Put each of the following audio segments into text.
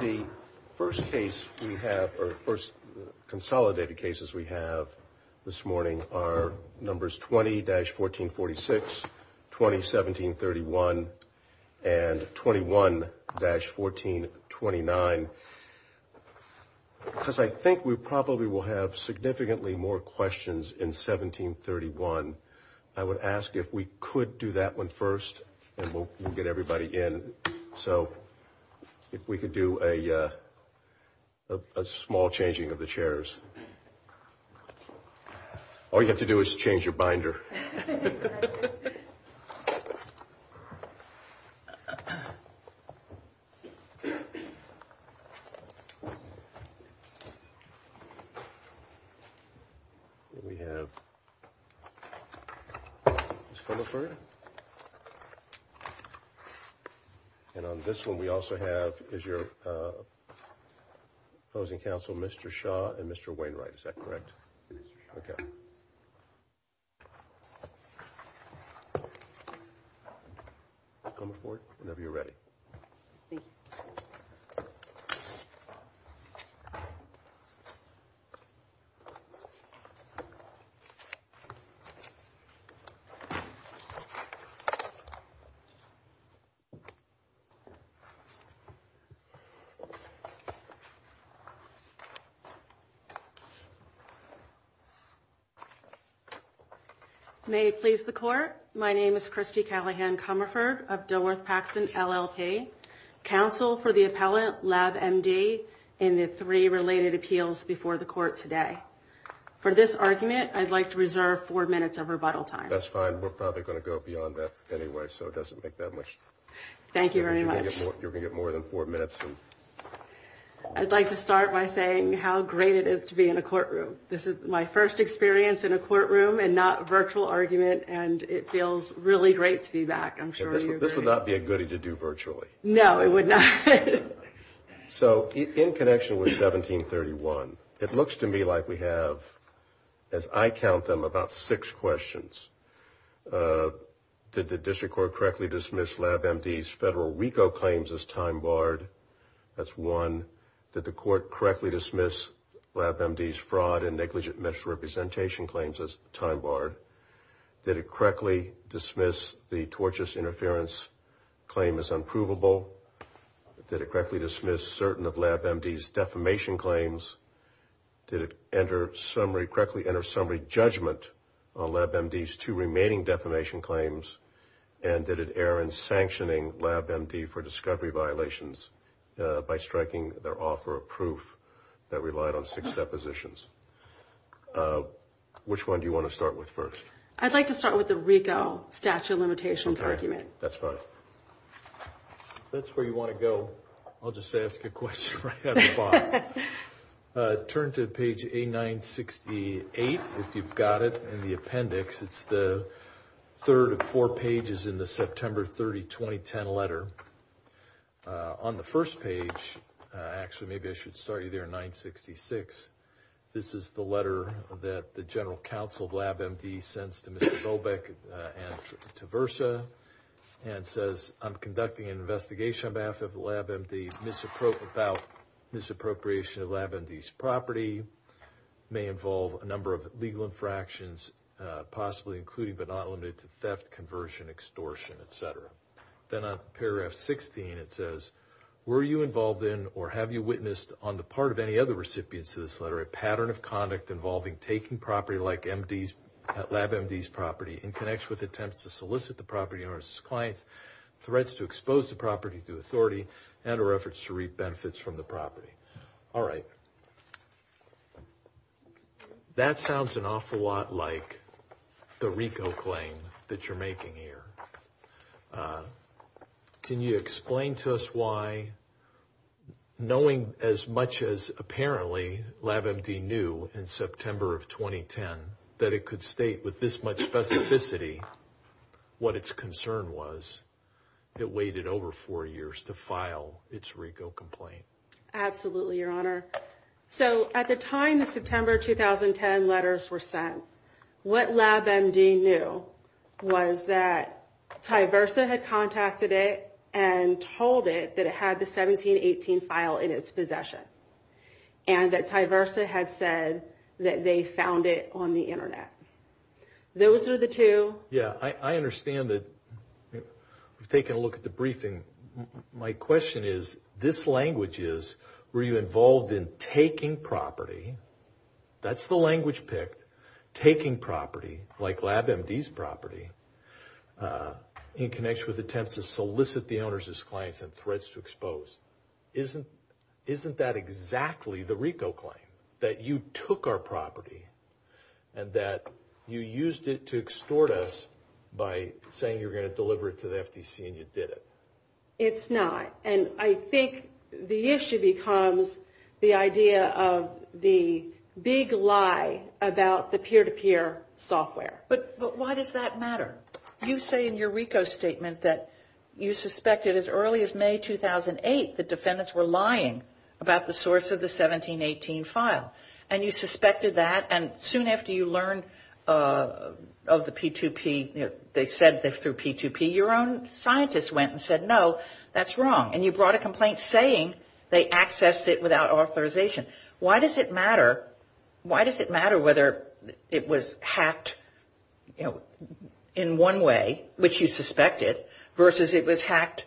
The first consolidated cases we have this morning are numbers 20-1446, 20-1731, and 21-1429, because I think we probably will have significantly more questions in 1731. And I would ask if we could do that one first, and we'll get everybody in. So if we could do a small changing of the chairs. All you have to do is change your binder. And on this one we also have, is your opposing counsel Mr. Shaw and Mr. Wainwright, is that correct? Yes. Okay. Come forward whenever you're ready. May it please the court, my name is Christy Callahan-Comerford of Dilworth-Paxson LLP, counsel for the appellant LABMD in the three related appeals before the court today. For this argument, I'd like to reserve four minutes of rebuttal time. That's fine, we're probably going to go beyond that anyway, so it doesn't make that much. Thank you very much. You're going to get more than four minutes. I'd like to start by saying how great it is to be in a courtroom. This is my first experience in a courtroom and not virtual argument, and it feels really great to be back. This would not be a goodie to do virtually. No, it would not. So in connection with 1731, it looks to me like we have, as I count them, about six questions. Did the district court correctly dismiss LABMD's federal RICO claims as time barred? That's one. Did the court correctly dismiss LABMD's fraud and negligent misrepresentation claims as time barred? Did it correctly dismiss the tortious interference claim as unprovable? Did it correctly dismiss certain of LABMD's defamation claims? Did it correctly enter summary judgment on LABMD's two remaining defamation claims? And did it err in sanctioning LABMD for discovery violations by striking their offer of proof that relied on six depositions? Which one do you want to start with first? I'd like to start with the RICO statute of limitations argument. That's fine. If that's where you want to go, I'll just ask a question right out of the box. Turn to page A968, if you've got it, in the appendix. It's the third of four pages in the September 30, 2010 letter. On the first page, actually maybe I should start you there, 966. This is the letter that the general counsel of LABMD sends to Mr. Dolbeck and to Versa. And it says, I'm conducting an investigation on behalf of LABMD about misappropriation of LABMD's property. It may involve a number of legal infractions, possibly including but not limited to theft, conversion, extortion, etc. Then on paragraph 16, it says, were you involved in or have you witnessed on the part of any other recipients to this letter a pattern of conduct involving taking property like LABMD's property in connection with attempts to solicit the property owner's client, threats to expose the property to authority, and or efforts to reap benefits from the property. All right. That sounds an awful lot like the RICO claim that you're making here. Can you explain to us why, knowing as much as apparently LABMD knew in September of 2010 that it could state with this much specificity what its concern was, it waited over four years to file its RICO complaint? Absolutely, Your Honor. So at the time the September 2010 letters were sent, what LABMD knew was that Ty Versa had contacted it and told it that it had the 1718 file in its possession. And that Ty Versa had said that they found it on the internet. Those are the two. Yeah, I understand that. We've taken a look at the briefing. My question is, this language is, were you involved in taking property, that's the language picked, taking property like LABMD's property in connection with attempts to solicit the owner's clients and threats to expose. Isn't that exactly the RICO claim, that you took our property and that you used it to extort us by saying you were going to deliver it to the FTC and you did it? It's not. And I think the issue becomes the idea of the big lie about the peer-to-peer software. But why does that matter? You say in your RICO statement that you suspected as early as May 2008 that defendants were lying about the source of the 1718 file. And you suspected that. And soon after you learned of the P2P, they said this through P2P, your own scientist went and said, no, that's wrong. And you brought a complaint saying they accessed it without authorization. Why does it matter? Why does it matter whether it was hacked in one way, which you suspected, versus it was hacked,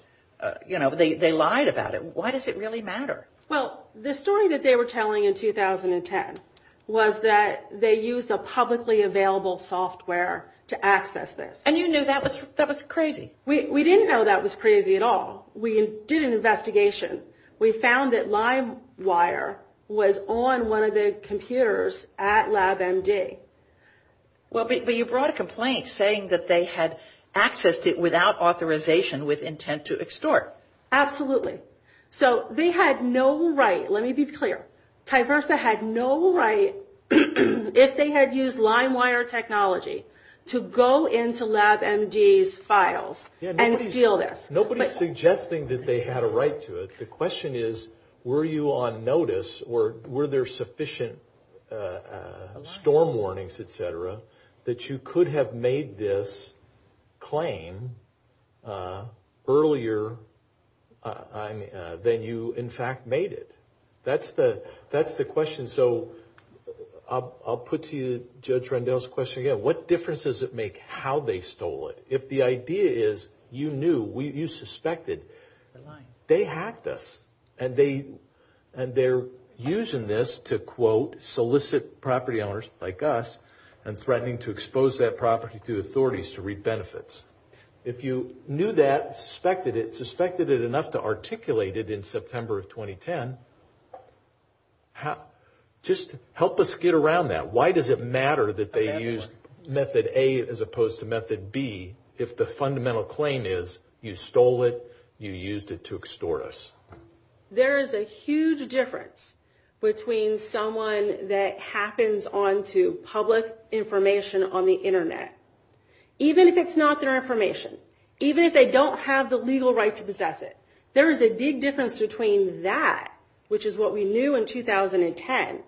they lied about it. Why does it really matter? Well, the story that they were telling in 2010 was that they used a publicly available software to access this. And you knew that was crazy. We didn't know that was crazy at all. We did an investigation. We found that LimeWire was on one of the computers at LabMD. Well, but you brought a complaint saying that they had accessed it without authorization with intent to extort. Absolutely. So they had no right, let me be clear, Tyversa had no right, if they had used LimeWire technology, to go into LabMD's files and steal it. Nobody's suggesting that they had a right to it. The question is, were you on notice or were there sufficient storm warnings, et cetera, that you could have made this claim earlier than you in fact made it? That's the question. So I'll put to you Judge Rendell's question again. What difference does it make how they stole it? If the idea is you knew, you suspected, they hacked us. And they're using this to, quote, solicit property owners like us and threatening to expose that property to authorities to reap benefits. If you knew that, suspected it, suspected it enough to articulate it in September of 2010, just help us get around that. Why does it matter that they used method A as opposed to method B if the fundamental claim is you stole it, you used it to extort us? There is a huge difference between someone that happens onto public information on the Internet. Even if it's not their information. Even if they don't have the legal right to possess it. There is a big difference between that, which is what we knew in 2010,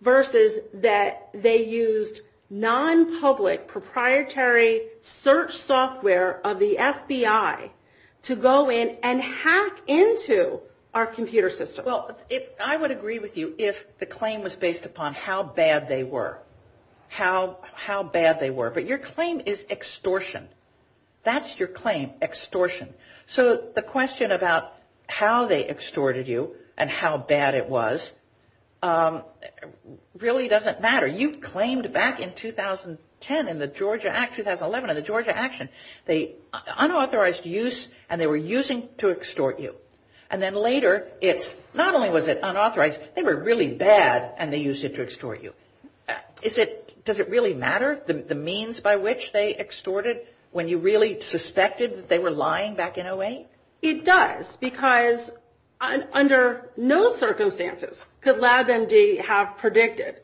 versus that they used non-public proprietary search software of the FBI to go in and hack into our computer system. Well, I would agree with you if the claim was based upon how bad they were. How bad they were. But your claim is extortion. That's your claim, extortion. So the question about how they extorted you and how bad it was really doesn't matter. You claimed back in 2010 in the Georgia Act, 2011 in the Georgia Action, they unauthorized use and they were using to extort you. And then later, it's not only was it unauthorized, they were really bad and they used it to extort you. Does it really matter the means by which they extorted when you really suspected that they were lying back in 2008? It does, because under no circumstances could LabMD have predicted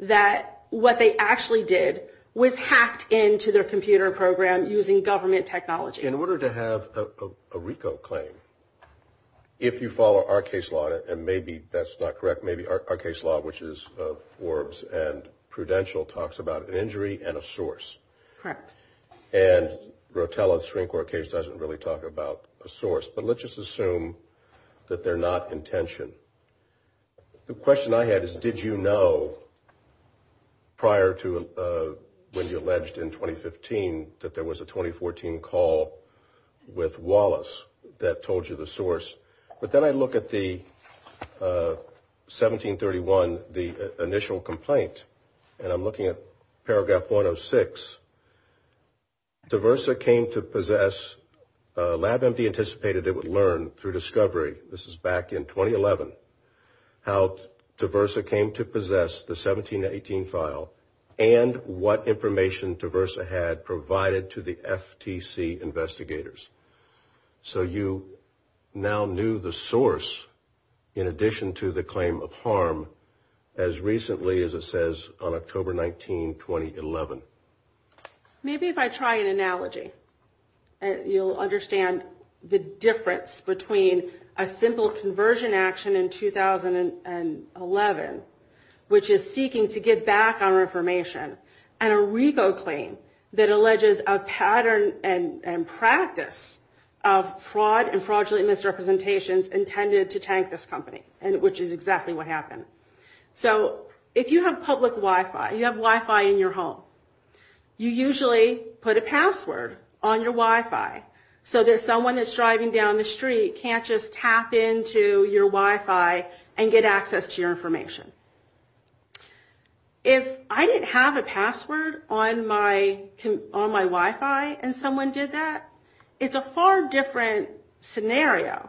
that what they actually did was hacked into their computer program using government technology. In order to have a RICO claim, if you follow our case law, and maybe that's not correct, maybe our case law, which is Forbes and Prudential, talks about an injury and a source. Correct. And Rotella's Supreme Court case doesn't really talk about a source. But let's just assume that they're not intention. The question I had is, did you know prior to when you alleged in 2015 that there was a 2014 call with Wallace that told you the source? But then I look at the 1731, the initial complaint, and I'm looking at paragraph 106. Diversa came to possess, LabMD anticipated it would learn through discovery, this is back in 2011, how Diversa came to possess the 1718 file and what information Diversa had provided to the FTC investigators. So you now knew the source in addition to the claim of harm as recently as it says on October 19, 2011. Maybe if I try an analogy, you'll understand the difference between a simple conversion action in 2011, which is seeking to get back our information, and a RICO claim that alleges a pattern and practice of fraud and fraudulent misrepresentations intended to tank this company, which is exactly what happened. So if you have public Wi-Fi, you have Wi-Fi in your home, you usually put a password on your Wi-Fi so that someone that's driving down the street can't just tap into your Wi-Fi and get access to your information. If I didn't have a password on my Wi-Fi and someone did that, it's a far different scenario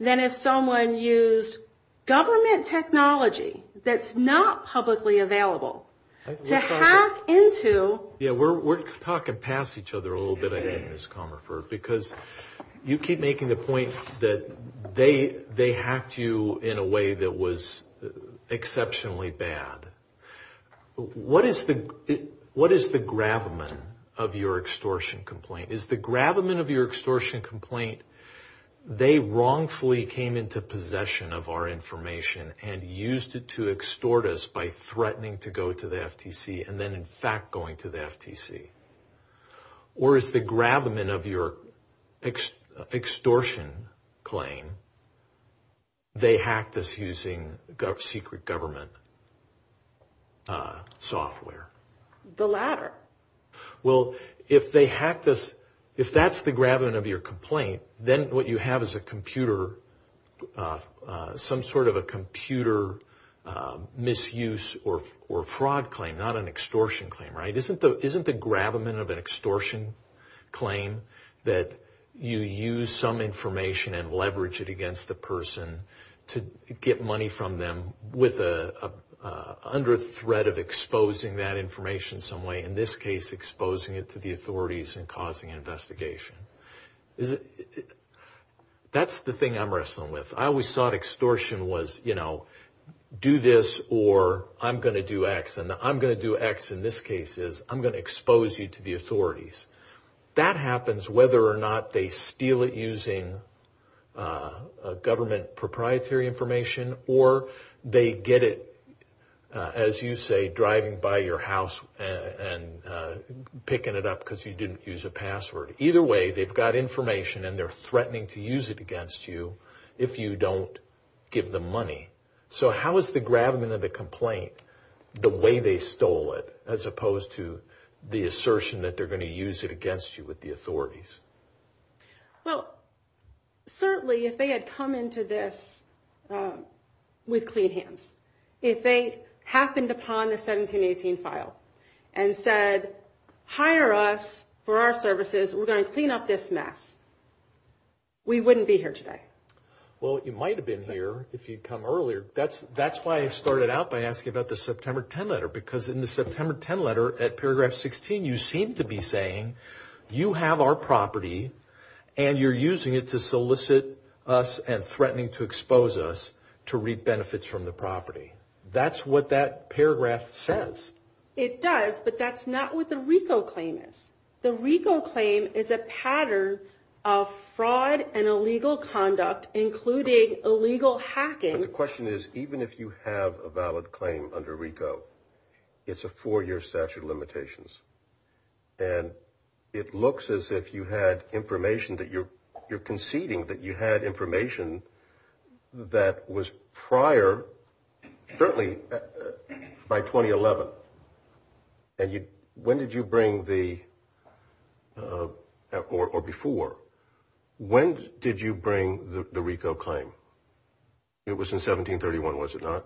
than if someone used government technology that's not publicly available to hack into... We're talking past each other a little bit, I think, Ms. Comerford, because you keep making the point that they hacked you in a way that was exceptionally bad. What is the gravamen of your extortion complaint? Is the gravamen of your extortion complaint, they wrongfully came into possession of our information and used it to extort us by threatening to go to the FTC and then in fact going to the FTC? Or is the gravamen of your extortion claim, they hacked us using secret government software? The latter. Well, if they hacked us, if that's the gravamen of your complaint, then what you have is a computer, some sort of a computer misuse or fraud claim, not an extortion claim, right? In this case, exposing it to the authorities and causing an investigation. That's the thing I'm wrestling with. I always thought extortion was, you know, do this or I'm going to do X. And the I'm going to do X in this case is I'm going to expose you to the authorities. That happens whether or not they steal it using government proprietary information or they get it, as you say, driving by your house and picking it up because you didn't use a password. Either way, they've got information and they're threatening to use it against you if you don't give them money. So how is the gravamen of the complaint the way they stole it as opposed to the assertion that they're going to use it against you with the authorities? Well, certainly if they had come into this with clean hands, if they happened upon the 1718 file and said, hire us for our services, we're going to clean up this mess, we wouldn't be here today. Well, you might have been here if you'd come earlier. That's why I started out by asking about the September 10 letter because in the September 10 letter at paragraph 16, you seem to be saying you have our property and you're using it to solicit us and threatening to expose us to reap benefits from the property. That's what that paragraph says. It does, but that's not what the RICO claim is. The RICO claim is a pattern of fraud and illegal conduct, including illegal hacking. The question is, even if you have a valid claim under RICO, it's a four-year statute of limitations. And it looks as if you had information that you're conceding that you had information that was prior, certainly by 2011. And when did you bring the – or before. When did you bring the RICO claim? It was in 1731, was it not?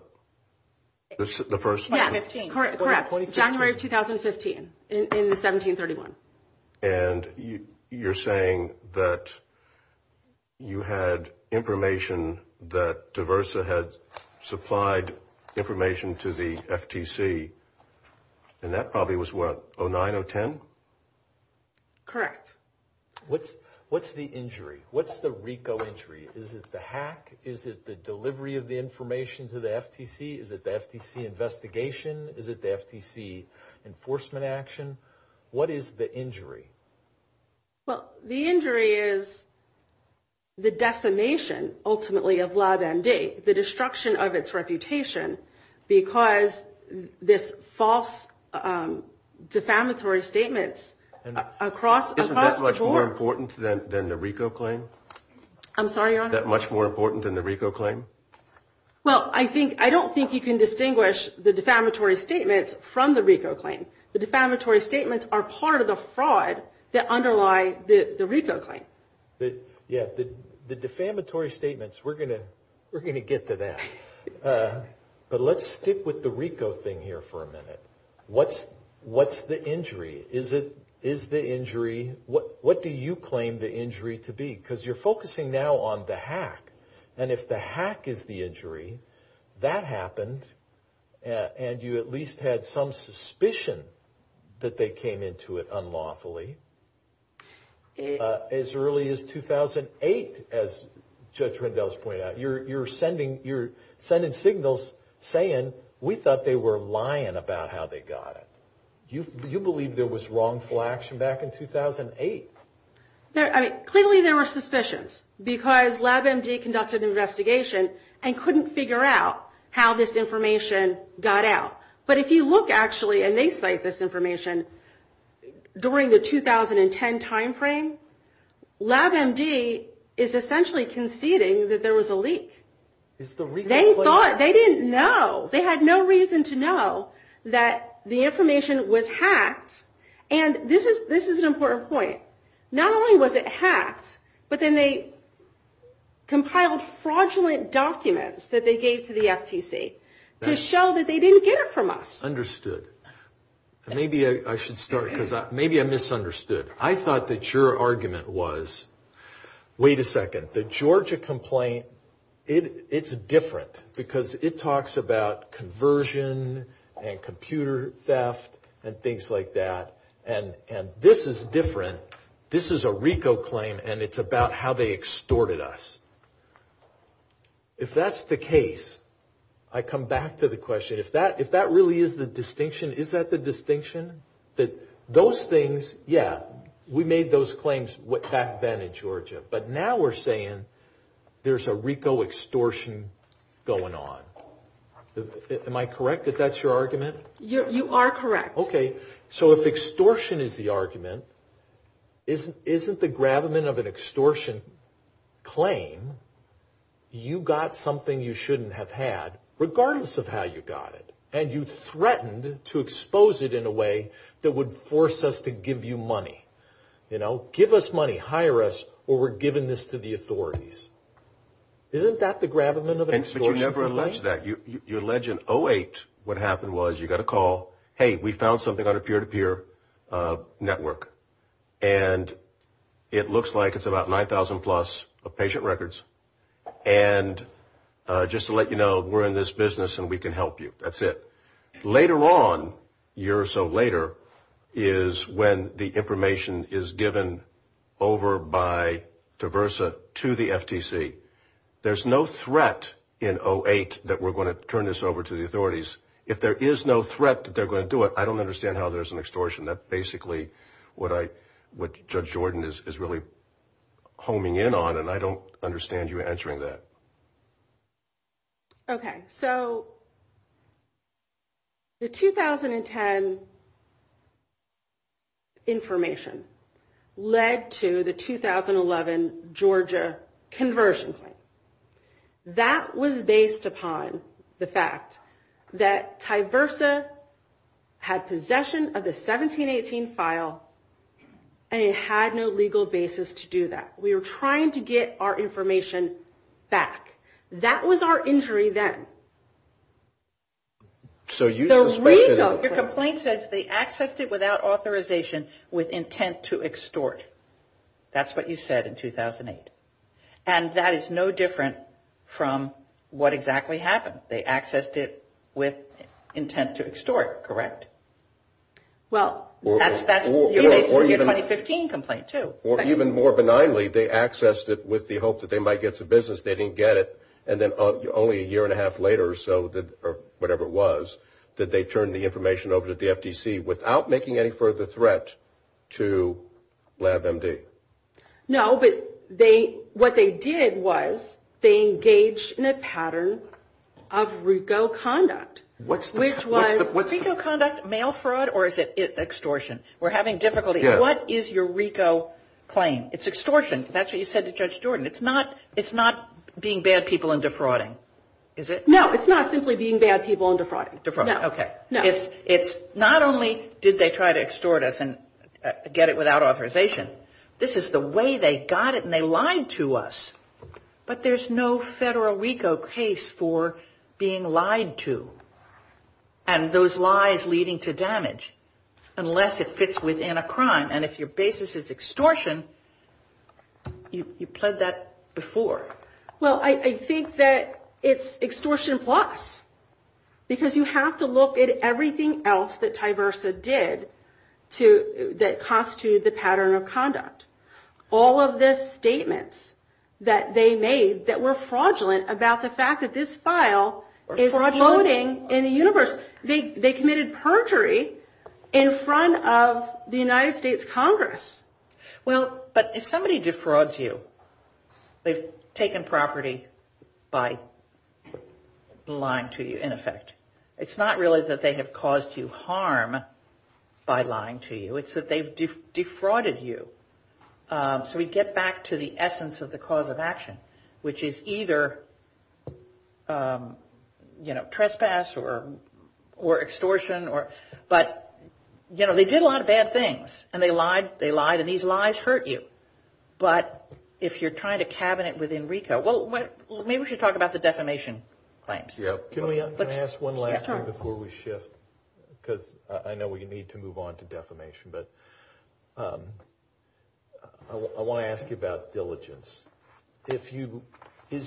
The first – Yeah, correct, January 2015, in 1731. And you're saying that you had information that DiVersa had supplied information to the FTC, and that probably was, what, 2009, 2010? Correct. What's the injury? What's the RICO injury? Is it the hack? Is it the delivery of the information to the FTC? Is it the FTC investigation? Is it the FTC enforcement action? What is the injury? Well, the injury is the defamation, ultimately, of LabMD, the destruction of its reputation, because this false defamatory statement across – Isn't that much more important than the RICO claim? I'm sorry, Your Honor? Is that much more important than the RICO claim? Well, I think – I don't think you can distinguish the defamatory statements from the RICO claim. The defamatory statements are part of the fraud that underlies the RICO claim. Yeah, the defamatory statements, we're going to get to that. But let's stick with the RICO thing here for a minute. What's the injury? Is it – is the injury – what do you claim the injury to be? Because you're focusing now on the hack. And if the hack is the injury, that happened, and you at least had some suspicion that they came into it unlawfully. As early as 2008, as Judge Rendell has pointed out, you're sending signals saying, we thought they were lying about how they got it. Do you believe there was wrongful action back in 2008? I mean, clearly there were suspicions because LabMD conducted an investigation and couldn't figure out how this information got out. But if you look, actually, and they cite this information, during the 2010 timeframe, LabMD is essentially conceding that there was a leak. They thought – they didn't know. And this is an important point. Not only was it hacked, but then they compiled fraudulent documents that they gave to the FTC to show that they didn't get it from us. Understood. Maybe I should start, because maybe I misunderstood. I thought that your argument was, wait a second, the Georgia complaint, it's different, because it talks about conversion and computer theft and things like that. And this is different. This is a RICO claim, and it's about how they extorted us. If that's the case, I come back to the question, if that really is the distinction, is that the distinction? That those things, yeah, we made those claims back then in Georgia. But now we're saying there's a RICO extortion going on. Am I correct if that's your argument? You are correct. Okay. So if extortion is the argument, isn't the gravamen of an extortion claim, you got something you shouldn't have had, regardless of how you got it. And you threatened to expose it in a way that would force us to give you money. You know, give us money, hire us, or we're giving this to the authorities. Isn't that the gravamen of an extortion claim? But you never alleged that. You alleged in 2008 what happened was you got a call, hey, we found something on a peer-to-peer network. And it looks like it's about 9,000 plus of patient records. And just to let you know, we're in this business and we can help you. That's it. Later on, a year or so later, is when the information is given over by DiVersa to the FTC. There's no threat in 2008 that we're going to turn this over to the authorities. If there is no threat that they're going to do it, I don't understand how there's an extortion. That's basically what Judge Jordan is really homing in on, and I don't understand you answering that. Okay. So the 2010 information led to the 2011 Georgia conversion claim. That was based upon the fact that DiVersa had possession of the 1718 file and it had no legal basis to do that. We were trying to get our information back. That was our injury then. So you suspect that... The legal complaint says they accessed it without authorization with intent to extort. That's what you said in 2008. And that is no different from what exactly happened. They accessed it with intent to extort, correct? Well... That's your 2015 complaint, too. Or even more benignly, they accessed it with the hope that they might get some business. They didn't get it. And then only a year and a half later or so, or whatever it was, that they turned the information over to the FTC without making any further threat to LabMD. No, but what they did was they engaged in a pattern of RICO conduct, which was RICO conduct, mail fraud, or is it extortion? We're having difficulty. What is your RICO claim? It's extortion. That's what you said to Judge Jordan. It's not being bad people and defrauding, is it? No, it's not simply being bad people and defrauding. Defrauding, okay. It's not only did they try to extort us and get it without authorization. This is the way they got it and they lied to us. But there's no federal RICO case for being lied to and those lies leading to damage unless it fits within a crime. And if your basis is extortion, you pled that before. Well, I think that it's extortion plus because you have to look at everything else that Tyversa did that constituted the pattern of conduct. All of the statements that they made that were fraudulent about the fact that this file is floating in the universe. They committed perjury in front of the United States Congress. Well, but if somebody defrauds you, they've taken property by lying to you in effect. It's not really that they have caused you harm by lying to you. It's that they've defrauded you. So we get back to the essence of the cause of action which is either trespass or extortion. But they did a lot of bad things and they lied and these lies hurt you. But if you're trying to cabinet within RICO, well, maybe we should talk about the defamation claims. Can I ask one last thing before we shift? Because I know we need to move on to defamation. I want to ask you about diligence. Is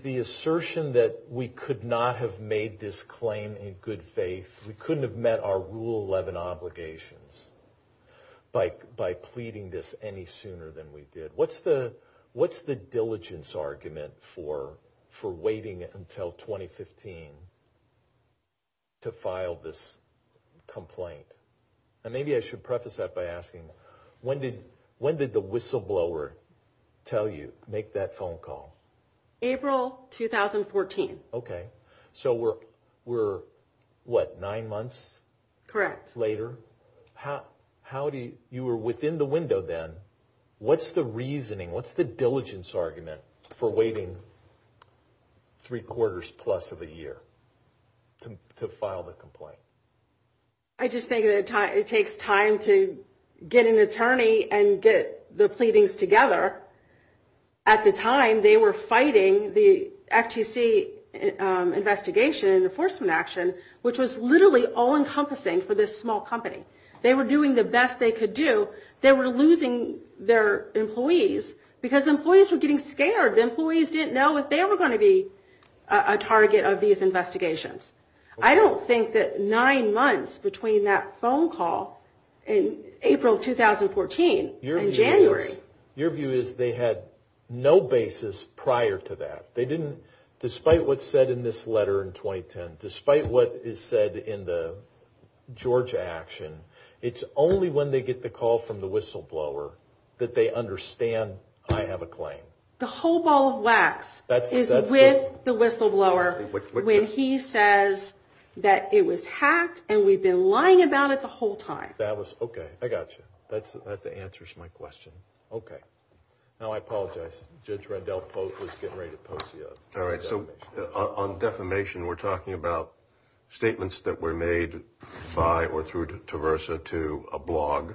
the assertion that we could not have made this claim in good faith, we couldn't have met our Rule 11 obligations by pleading this any sooner than we did. What's the diligence argument for waiting until 2015 to file this complaint? And maybe I should preface that by asking, when did the whistleblower tell you, make that phone call? April 2014. Okay. So we're, what, nine months later? Correct. You were within the window then. What's the reasoning, what's the diligence argument for waiting three quarters plus of a year to file the complaint? I just think it takes time to get an attorney and get the pleadings together. At the time, they were fighting the FTC investigation and enforcement action, which was literally all-encompassing for this small company. They were doing the best they could do. They were losing their employees because employees were getting scared. Employees didn't know if they were going to be a target of these investigations. I don't think that nine months between that phone call and April 2014 in January. Your view is they had no basis prior to that. They didn't, despite what's said in this letter in 2010, despite what is said in the Georgia action, it's only when they get the call from the whistleblower that they understand I have a claim. The whole ball of wax is with the whistleblower when he says that it was hacked and we've been lying about it the whole time. That was, okay, I got you. That answers my question. Okay. Now I apologize. Judge Rendell was getting ready to post you up. All right, so on defamation, we're talking about statements that were made by or through Traversa to a blog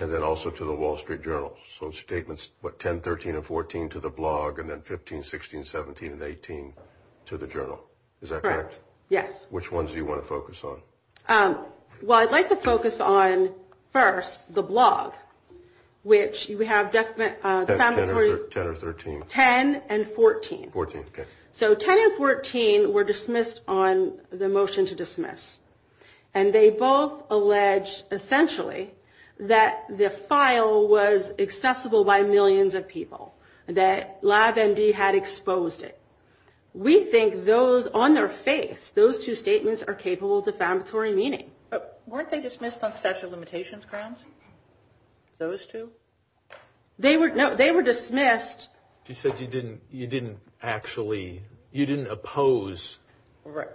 and then also to the Wall Street Journal. So statements, what, 10, 13, and 14 to the blog, and then 15, 16, 17, and 18 to the journal. Is that correct? Correct, yes. Which ones do you want to focus on? Well, I'd like to focus on, first, the blog, which we have defamatory- That's 10 or 13. 10 and 14. 14, okay. So 10 and 14 were dismissed on the motion to dismiss, and they both allege, essentially, that the file was accessible by millions of people, that LabMD had exposed it. We think those, on their face, those two statements are capable of defamatory meaning. Weren't they dismissed on special limitations crimes? Those two? No, they were dismissed- She said you didn't actually, you didn't oppose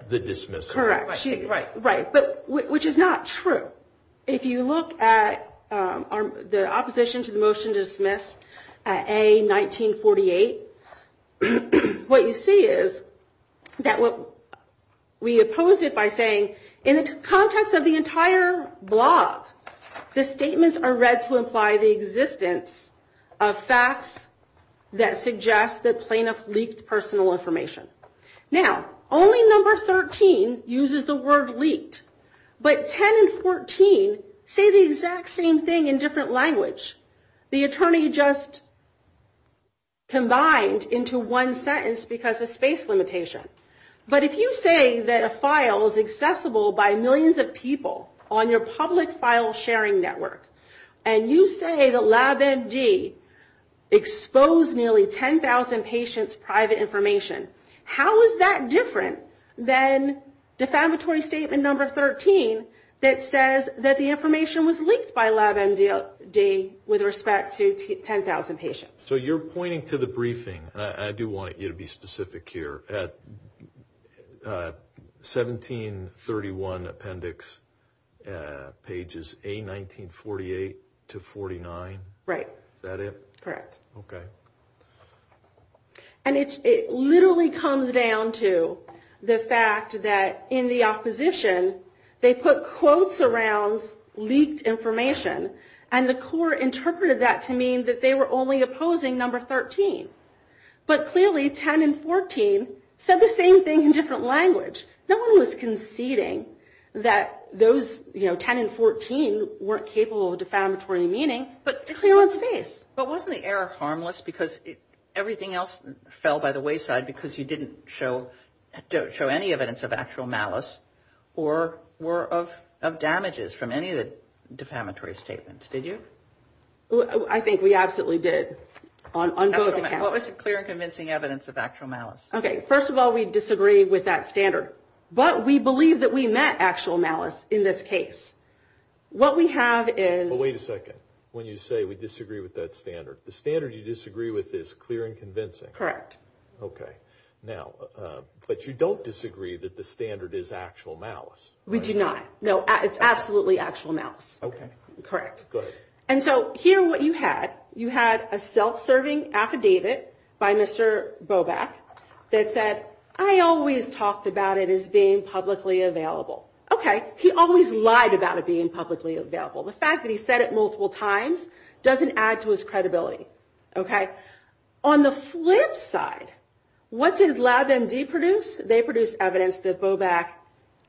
the dismissal. Correct. Right. Which is not true. If you look at the opposition to the motion to dismiss, A, 1948, what you see is that we oppose it by saying, in the context of the entire blog, the statements are read to imply the existence of facts that suggest that plaintiffs leaked personal information. Now, only number 13 uses the word leaked, but 10 and 14 say the exact same thing in different language. The attorney just combined into one sentence because of space limitation. But if you say that a file is accessible by millions of people on your public file sharing network, and you say that LabMD exposed nearly 10,000 patients' private information, how is that different than defamatory statement number 13 that says that the information was leaked by LabMD with respect to 10,000 patients? So you're pointing to the briefing. I do want you to be specific here. 1731 appendix pages A, 1948 to 49? Right. Is that it? Correct. Okay. And it literally comes down to the fact that in the opposition, they put quotes around leaked information, and the court interpreted that to mean that they were only opposing number 13. But clearly 10 and 14 said the same thing in different language. No one was conceding that those, you know, 10 and 14 weren't capable of defamatory meaning, but they're clear on space. But wasn't the error harmless because everything else fell by the wayside because you didn't show any evidence of actual malice or of damages from any of the defamatory statements? Did you? I think we absolutely did. What was the clear and convincing evidence of actual malice? Okay. First of all, we disagree with that standard. But we believe that we met actual malice in this case. What we have is – But wait a second. When you say we disagree with that standard, the standard you disagree with is clear and convincing. Correct. Okay. But you don't disagree that the standard is actual malice. We do not. No, it's absolutely actual malice. Okay. Correct. Go ahead. And so here what you had, you had a self-serving affidavit by Mr. Bobak that said, I always talked about it as being publicly available. Okay. He always lied about it being publicly available. The fact that he said it multiple times doesn't add to his credibility. Okay. On the flip side, what did LabMD produce? They produced evidence that Bobak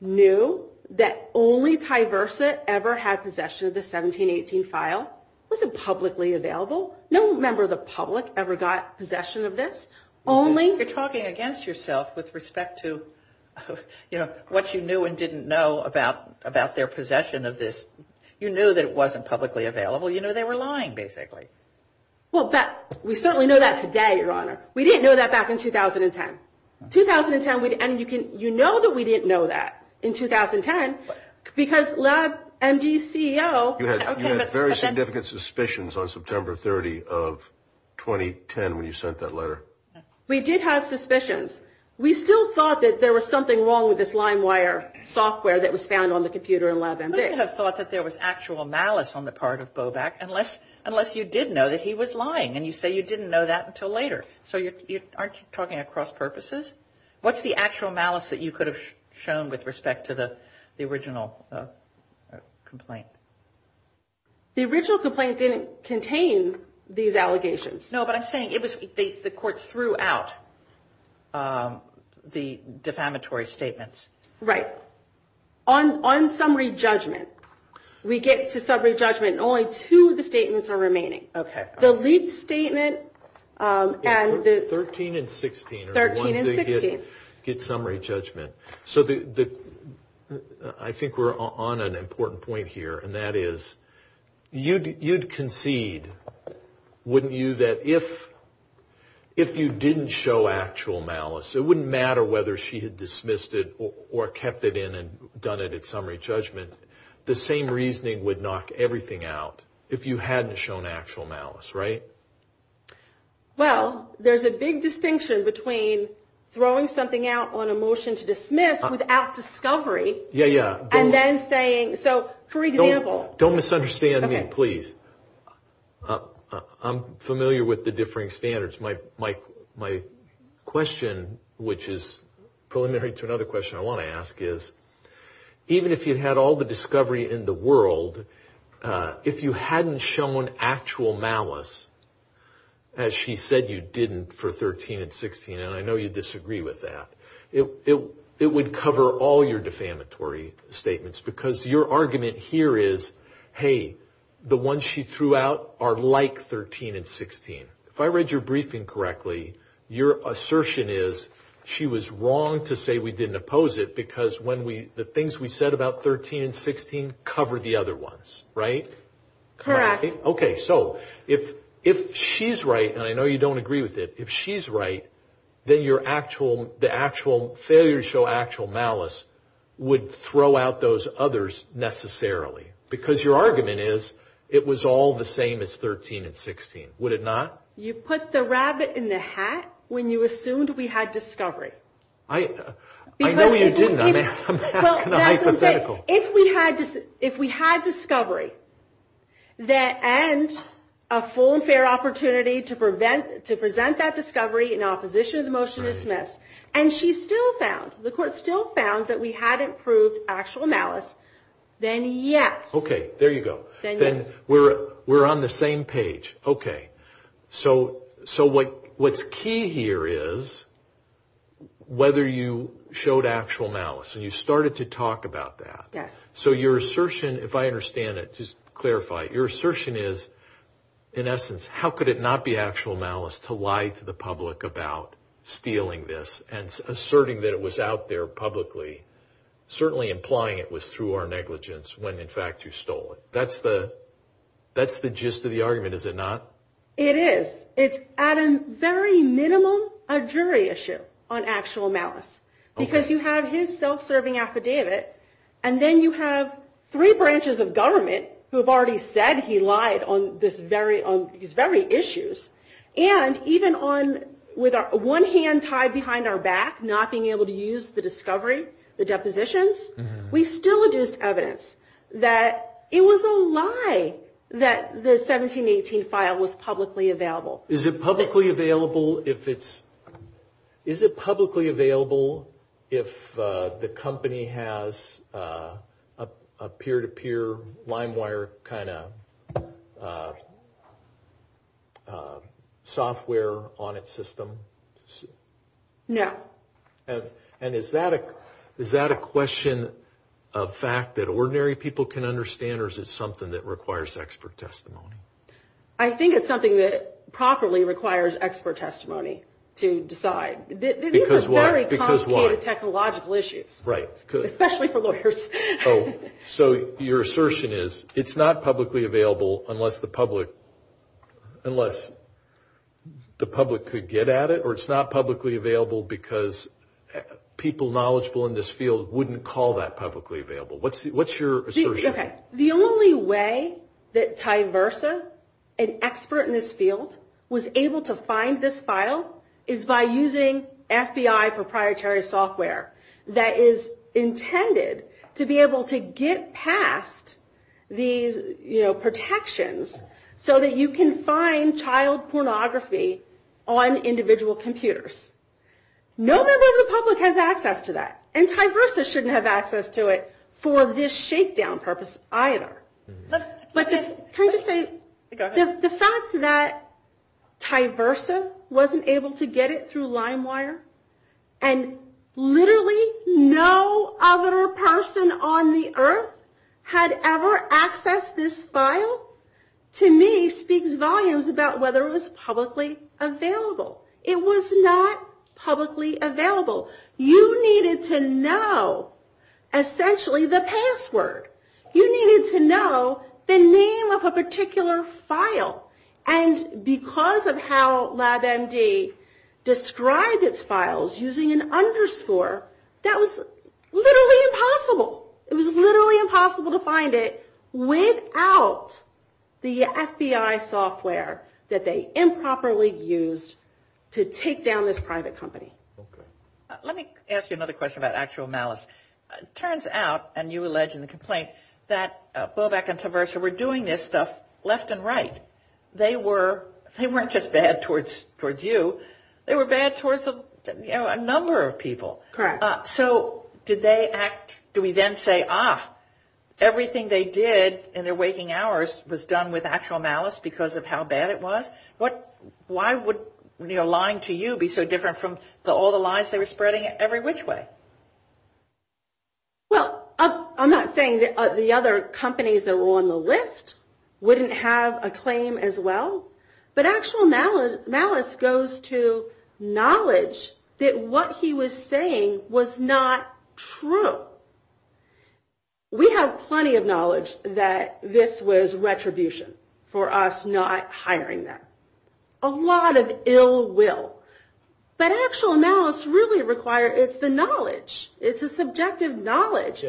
knew that only Ty Versa ever had possession of the 1718 file. It wasn't publicly available. No member of the public ever got possession of this. You're talking against yourself with respect to what you knew and didn't know about their possession of this. You knew that it wasn't publicly available. You knew they were lying, basically. Well, we certainly know that today, Your Honor. We didn't know that back in 2010. 2010, and you know that we didn't know that in 2010, because LabMD's CEO. You had very significant suspicions on September 30 of 2010 when you sent that letter. We did have suspicions. We still thought that there was something wrong with this LimeWire software that was found on the computer in LabMD. We would have thought that there was actual malice on the part of Bobak unless you did know that he was lying, and you say you didn't know that until later. So aren't you talking across purposes? What's the actual malice that you could have shown with respect to the original complaint? The original complaint didn't contain these allegations. No, but I'm saying the court threw out the defamatory statements. Right. On summary judgment, we get to summary judgment, and only two of the statements are remaining. Okay. The lease statement and the 13 and 16 are the ones that get summary judgment. So I think we're on an important point here, and that is you'd concede, wouldn't you, that if you didn't show actual malice, it wouldn't matter whether she had dismissed it or kept it in and done it at summary judgment. The same reasoning would knock everything out if you hadn't shown actual malice, right? Well, there's a big distinction between throwing something out on a motion to dismiss without discovery. Yeah, yeah. And then saying, so, for example. Don't misunderstand me, please. I'm familiar with the differing standards. My question, which is preliminary to another question I want to ask, is even if you had all the discovery in the world, if you hadn't shown actual malice, as she said you didn't for 13 and 16, and I know you disagree with that, it would cover all your defamatory statements, because your argument here is, hey, the ones she threw out are like 13 and 16. If I read your briefing correctly, your assertion is she was wrong to say we didn't oppose it because the things we said about 13 and 16 cover the other ones, right? Correct. Okay. So if she's right, and I know you don't agree with it, if she's right, then the actual failure to show actual malice would throw out those others necessarily, because your argument is it was all the same as 13 and 16. Would it not? You put the rabbit in the hat when you assumed we had discovery. I know you didn't. I'm hypothetical. If we had discovery and a full and fair opportunity to present that discovery in opposition of the motion dismissed, and she still found, the court still found that we hadn't proved actual malice, then yes. Okay. There you go. Then we're on the same page. Okay. So what's key here is whether you showed actual malice, and you started to talk about that. Yes. So your assertion, if I understand it, just clarify, your assertion is, in essence, how could it not be actual malice to lie to the public about stealing this and asserting that it was out there publicly, certainly implying it was through our negligence when, in fact, you stole it. That's the gist of the argument. Is it not? It is. It's, at a very minimum, a jury issue on actual malice. Okay. Because you have his self-serving affidavit, and then you have three branches of government who have already said he lied on these very issues, and even with one hand tied behind our back, not being able to use the discovery, the depositions, we still would use evidence that it was a lie that the 1718 file was publicly available. Is it publicly available if the company has a peer-to-peer LimeWire kind of software on its system? No. And is that a question of fact that ordinary people can understand, or is it something that requires expert testimony? I think it's something that properly requires expert testimony to decide. These are very complicated technological issues, especially for lawyers. So your assertion is it's not publicly available unless the public could get at it, or it's not publicly available because people knowledgeable in this field wouldn't call that publicly available. What's your assertion? Okay. The only way that Ty Versa, an expert in this field, was able to find this file is by using FBI proprietary software that is intended to be able to get past these protections so that you can find child pornography on individual computers. No member of the public has access to that, and Ty Versa shouldn't have access to it for this shakedown purpose either. But the fact that Ty Versa wasn't able to get it through LimeWire, and literally no other person on the earth had ever accessed this file, to me speaks volumes about whether it was publicly available. It was not publicly available. You needed to know essentially the password. You needed to know the name of a particular file, and because of how LabMD described its files using an underscore, that was literally impossible. It was literally impossible to find it without the FBI software that they improperly used to take down this private company. Let me ask you another question about actual malice. It turns out, and you allege in the complaint, that Woback and Ty Versa were doing this stuff left and right. They weren't just bad towards you. They were bad towards a number of people. Correct. So do we then say, ah, everything they did in their waking hours was done with actual malice because of how bad it was? Why would Lime to you be so different from all the lies they were spreading every which way? Well, I'm not saying the other companies that were on the list wouldn't have a claim as well, but actual malice goes to knowledge that what he was saying was not true. We have plenty of knowledge that this was retribution for us not hiring them, a lot of ill will. But actual malice really requires the knowledge. It's a subjective knowledge.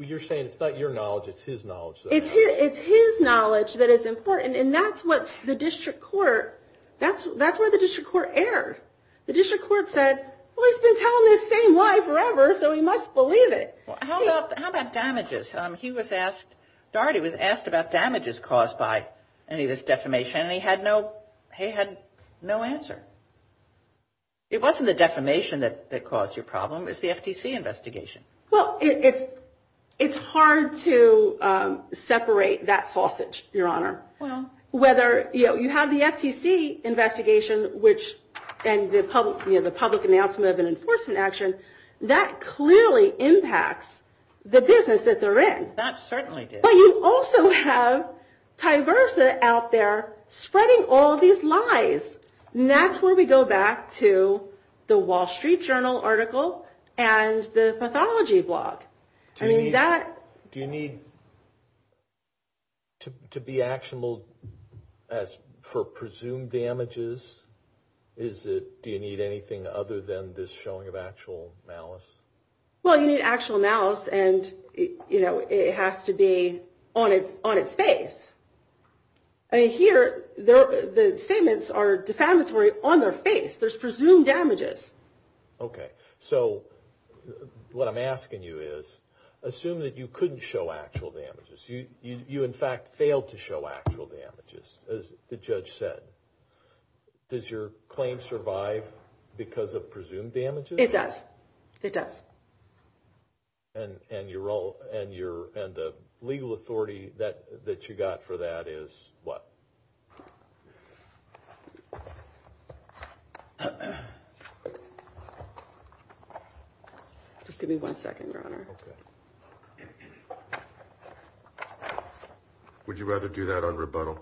You're saying it's not your knowledge, it's his knowledge. It's his knowledge that is important, and that's what the district court, that's where the district court erred. The district court said, well, he's been telling the same lie forever, so he must believe it. How about damages? He was asked, Darity was asked about damages caused by any of this defamation, and he had no answer. It wasn't the defamation that caused your problem, it was the FTC investigation. Well, it's hard to separate that sausage, Your Honor. Whether you have the FTC investigation and the public announcement of an enforcement action, that clearly impacts the business that they're in. That certainly did. But you also have Tyversa out there spreading all these lies. And that's where we go back to the Wall Street Journal article and the pathology blog. Do you need to be actionable for presumed damages? Do you need anything other than this showing of actual malice? Well, you need actual malice, and it has to be on its face. Here, the statements are defamatory on their face. There's presumed damages. Okay. So what I'm asking you is, assume that you couldn't show actual damages. You, in fact, failed to show actual damages, as the judge said. Does your claim survive because of presumed damages? It does. It does. And the legal authority that you got for that is what? Just give me one second, Your Honor. Would you rather do that on rebuttal?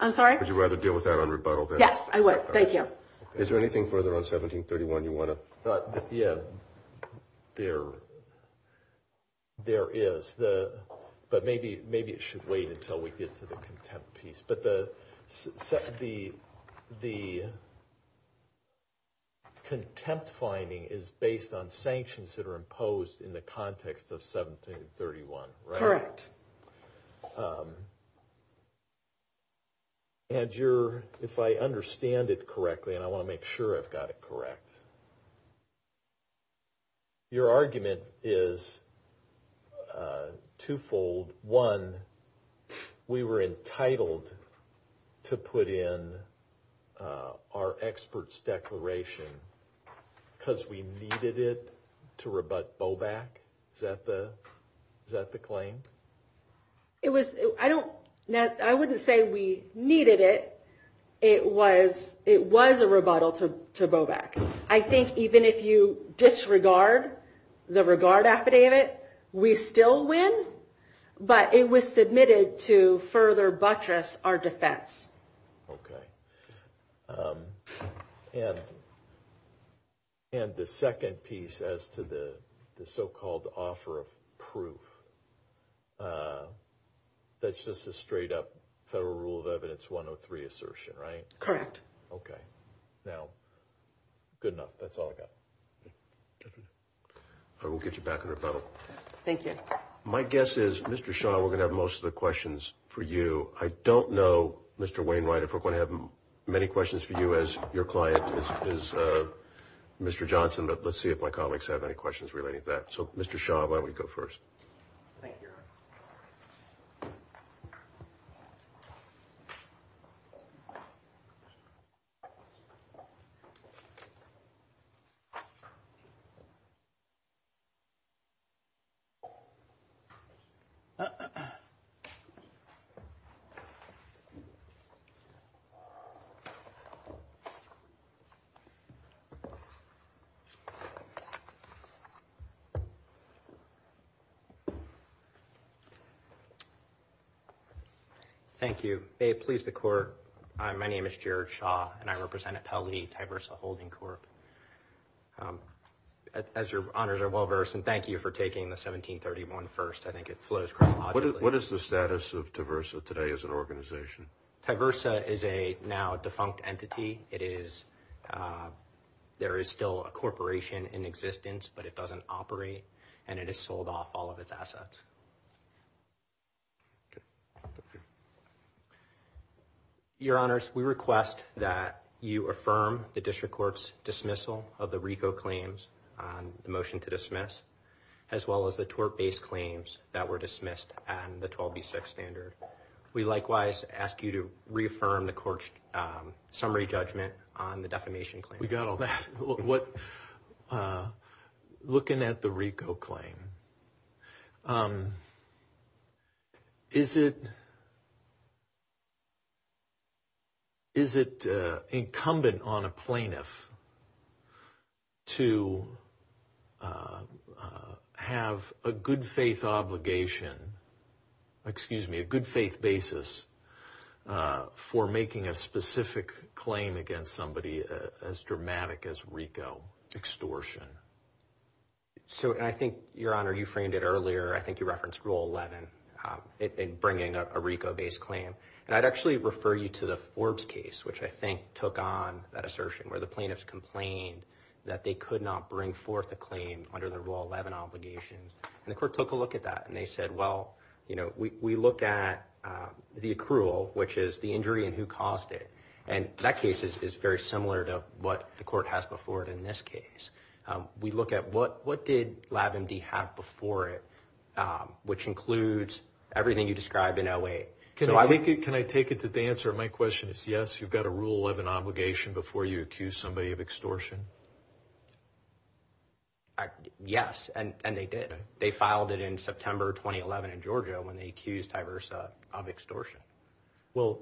I'm sorry? Would you rather deal with that on rebuttal? Yes, I would. Thank you. Is there anything further on 1731 you want to? Yeah, there is. But maybe it should wait until we get to the contempt piece. But the contempt finding is based on sanctions that are imposed in the context of 1731, right? Correct. And if I understand it correctly, and I want to make sure I've got it correct, your argument is twofold. One, we were entitled to put in our expert's declaration because we needed it to rebut Bowback. Is that the claim? I wouldn't say we needed it. It was a rebuttal to Bowback. I think even if you disregard the regard affidavit, we still win, but it was submitted to further buttress our defense. Okay. And the second piece as to the so-called offer of proof, that's just a straight-up Federal Rule of Evidence 103 assertion, right? Correct. Okay. Now, good enough. That's all I've got. Thank you. I will get you back on rebuttal. Thank you. My guess is, Mr. Shaw, we're going to have most of the questions for you. I don't know, Mr. Wainwright, if we're going to have many questions for you as your client, as Mr. Johnson, but let's see if my colleagues have any questions relating to that. So, Mr. Shaw, why don't we go first? Thank you. Thank you. May it please the Court, my name is Jared Shaw, and I represent a Tully Tiversa Holding Corp. As your honors are well versed, and thank you for taking the 1731 first. I think it flows quite moderately. What is the status of Tiversa today as an organization? Tiversa is a now defunct entity. There is still a corporation in existence, but it doesn't operate, and it has sold off all of its assets. Your honors, we request that you affirm the District Court's dismissal of the RICO claims, the motion to dismiss, as well as the tort-based claims that were dismissed on the 12b6 standard. We likewise ask you to reaffirm the Court's summary judgment on the defamation claim. We got all that. Looking at the RICO claim, is it incumbent on a plaintiff to have a good faith obligation, excuse me, a good faith basis for making a specific claim against somebody as dramatic as RICO extortion? I think, your honors, you framed it earlier. I think you referenced Rule 11 in bringing a RICO-based claim. I'd actually refer you to the Forbes case, which I think took on that assertion, where the plaintiffs complained that they could not bring forth a claim under the Rule 11 obligation. And the Court took a look at that, and they said, well, you know, we look at the accrual, which is the injury and who caused it. And that case is very similar to what the Court has before it in this case. We look at what did LabMD have before it, which includes everything you described in LA. Can I take it that the answer to my question is yes, you've got a Rule 11 obligation before you accuse somebody of extortion? Yes, and they did. They filed it in September 2011 in Georgia when they accused divers of extortion. Well,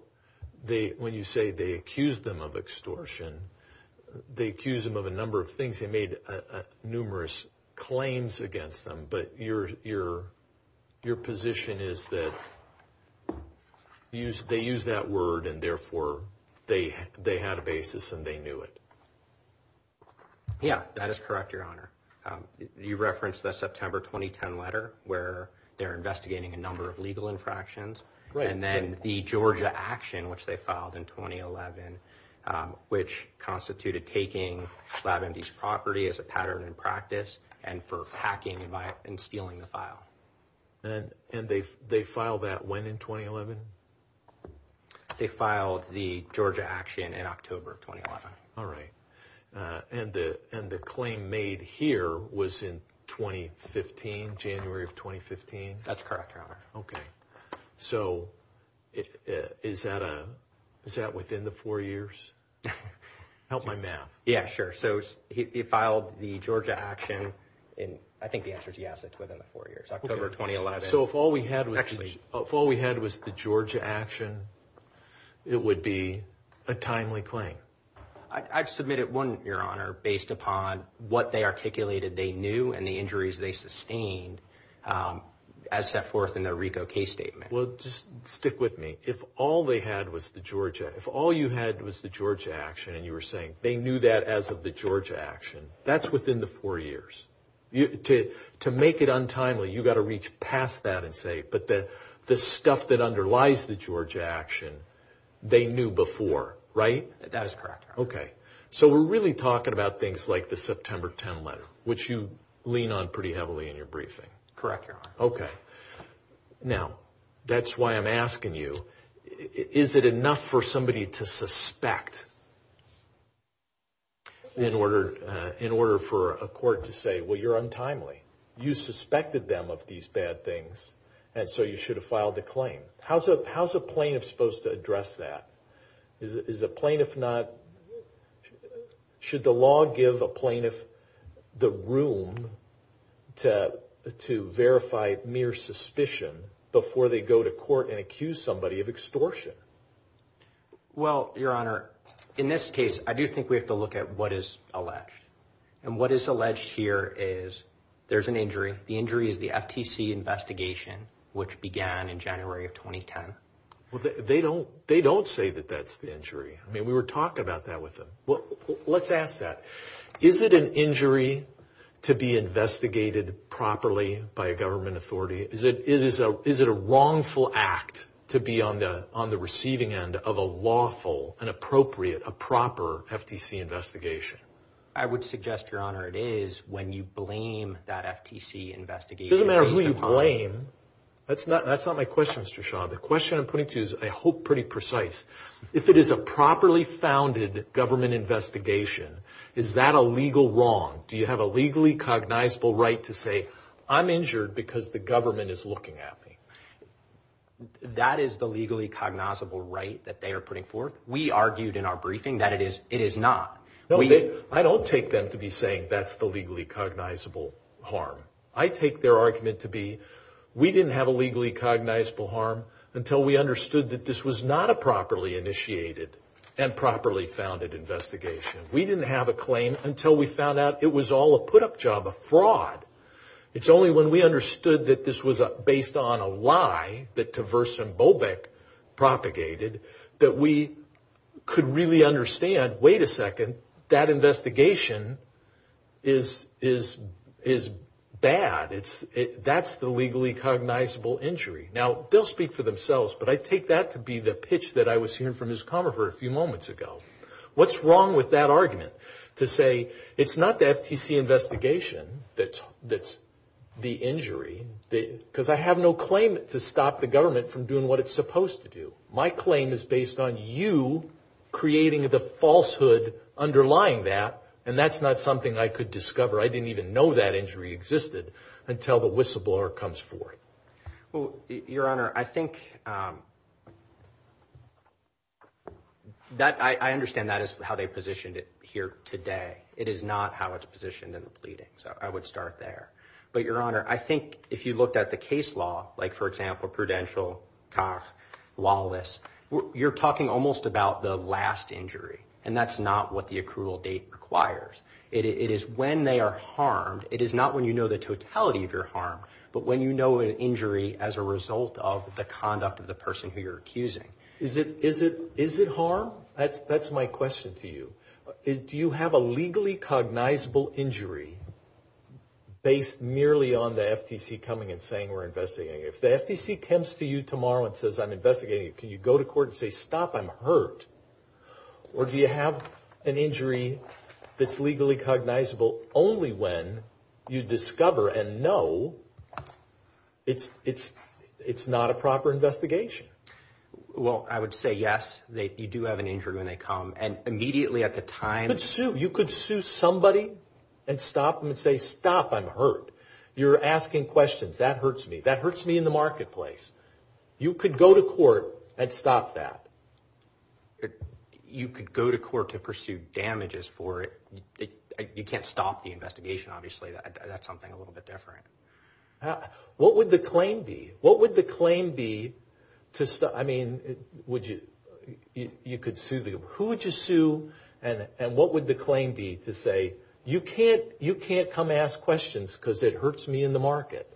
when you say they accused them of extortion, they accused them of a number of things. They made numerous claims against them, but your position is that they used that word, and therefore they had a basis and they knew it. Yes, that is correct, Your Honor. You referenced the September 2010 letter where they're investigating a number of legal infractions. And then the Georgia action, which they filed in 2011, which constituted taking LabMD's property as a pattern in practice and for hacking and stealing the file. And they filed that when in 2011? They filed the Georgia action in October 2011. All right. And the claim made here was in 2015, January of 2015? That's correct, Your Honor. Okay. So is that within the four years? Help my math. Yes, sure. So he filed the Georgia action in, I think the answer is yes, it's within the four years, October 2011. So if all we had was the Georgia action, it would be a timely claim? I submitted one, Your Honor, based upon what they articulated they knew and the injuries they sustained as set forth in their RICO case statement. Well, just stick with me. If all you had was the Georgia action and you were saying they knew that as of the Georgia action, that's within the four years. To make it untimely, you've got to reach past that and say, but the stuff that underlies the Georgia action, they knew before, right? That is correct, Your Honor. Okay. So we're really talking about things like the September 2010 letter, which you lean on pretty heavily in your briefing. Correct, Your Honor. Okay. Now, that's why I'm asking you, is it enough for somebody to suspect in order for a court to say, well, you're untimely? You suspected them of these bad things, and so you should have filed the claim. How's a plaintiff supposed to address that? Is a plaintiff not – should the law give a plaintiff the room to verify mere suspicion before they go to court and accuse somebody of extortion? Well, Your Honor, in this case, I do think we have to look at what is alleged. And what is alleged here is there's an injury. The injury is the FTC investigation, which began in January of 2010. Well, they don't say that that's the injury. I mean, we were talking about that with them. Let's ask that. Is it an injury to be investigated properly by a government authority? Is it a wrongful act to be on the receiving end of a lawful, an appropriate, a proper FTC investigation? I would suggest, Your Honor, it is when you blame that FTC investigation. It doesn't matter who you blame. That's not my question, Mr. Shah. The question I'm putting to you is, I hope, pretty precise. If it is a properly founded government investigation, is that a legal wrong? Do you have a legally cognizable right to say, I'm injured because the government is looking at me? That is the legally cognizable right that they are putting forth. We argued in our briefing that it is not. I don't take them to be saying that's the legally cognizable harm. I take their argument to be, we didn't have a legally cognizable harm until we understood that this was not a properly initiated and properly founded investigation. We didn't have a claim until we found out it was all a put-up job, a fraud. It's only when we understood that this was based on a lie that Tversyn Bobek propagated that we could really understand, wait a second, that investigation is bad. That's the legally cognizable injury. Now, they'll speak for themselves, but I take that to be the pitch that I was hearing from Ms. Conover a few moments ago. What's wrong with that argument to say, it's not the FTC investigation that's the injury, because I have no claim to stop the government from doing what it's supposed to do. My claim is based on you creating the falsehood underlying that, and that's not something I could discover. I didn't even know that injury existed until the whistleblower comes forward. Well, Your Honor, I think that I understand that is how they positioned it here today. It is not how it's positioned in the pleadings. I would start there. But, Your Honor, I think if you looked at the case law, like, for example, Prudential, Cox, Wallace, you're talking almost about the last injury, and that's not what the accrual date requires. It is when they are harmed. It is not when you know the totality of your harm, but when you know an injury as a result of the conduct of the person who you're accusing. Is it harm? That's my question to you. Do you have a legally cognizable injury based merely on the FTC coming and saying we're investigating it? If the FTC comes to you tomorrow and says, I'm investigating it, can you go to court and say, stop, I'm hurt? Or do you have an injury that's legally cognizable only when you discover and know it's not a proper investigation? Well, I would say, yes, you do have an injury when they come. And immediately at the time. You could sue somebody and stop them and say, stop, I'm hurt. You're asking questions. That hurts me. That hurts me in the marketplace. You could go to court and stop that. You could go to court to pursue damages for it. You can't stop the investigation, obviously. That's something a little bit different. What would the claim be? I mean, you could sue them. Who would you sue and what would the claim be to say, you can't come ask questions because it hurts me in the market?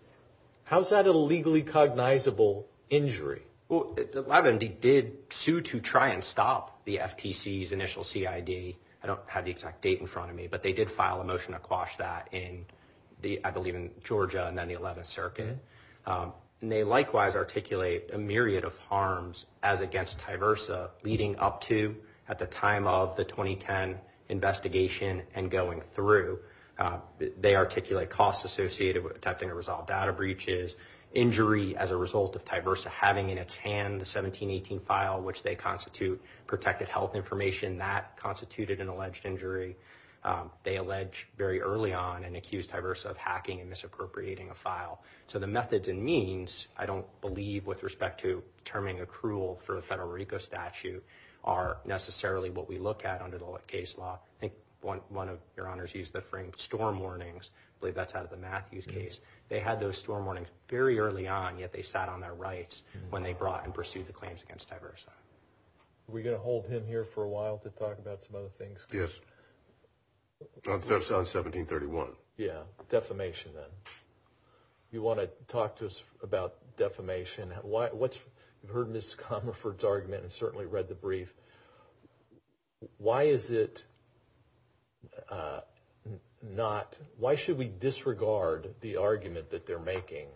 How is that a legally cognizable injury? Well, the LabMD did sue to try and stop the FTC's initial CID. I don't have the exact date in front of me. But they did file a motion to quash that in, I believe, in Georgia in the 11th Circuit. And they likewise articulate a myriad of harms as against Tyversa leading up to at the time of the 2010 investigation and going through. They articulate costs associated with attempting to resolve data breaches, injury as a result of Tyversa having in its hand the 1718 file, which they constitute protected health information. That constituted an alleged injury. They allege very early on and accused Tyversa of hacking and misappropriating a file. So the methods and means, I don't believe with respect to determining accrual for the Federico statute, are necessarily what we look at under the case law. I think one of your honors used the term storm warnings. I believe that's out of the Matthews case. They had those storm warnings very early on, yet they sat on their rights when they brought and pursued the claims against Tyversa. Are we going to hold him here for a while to talk about some other things? Yes. That's on 1731. Yeah. Defamation then. You want to talk to us about defamation. You've heard Mr. Comerford's argument and certainly read the brief. Why should we disregard the argument that they're making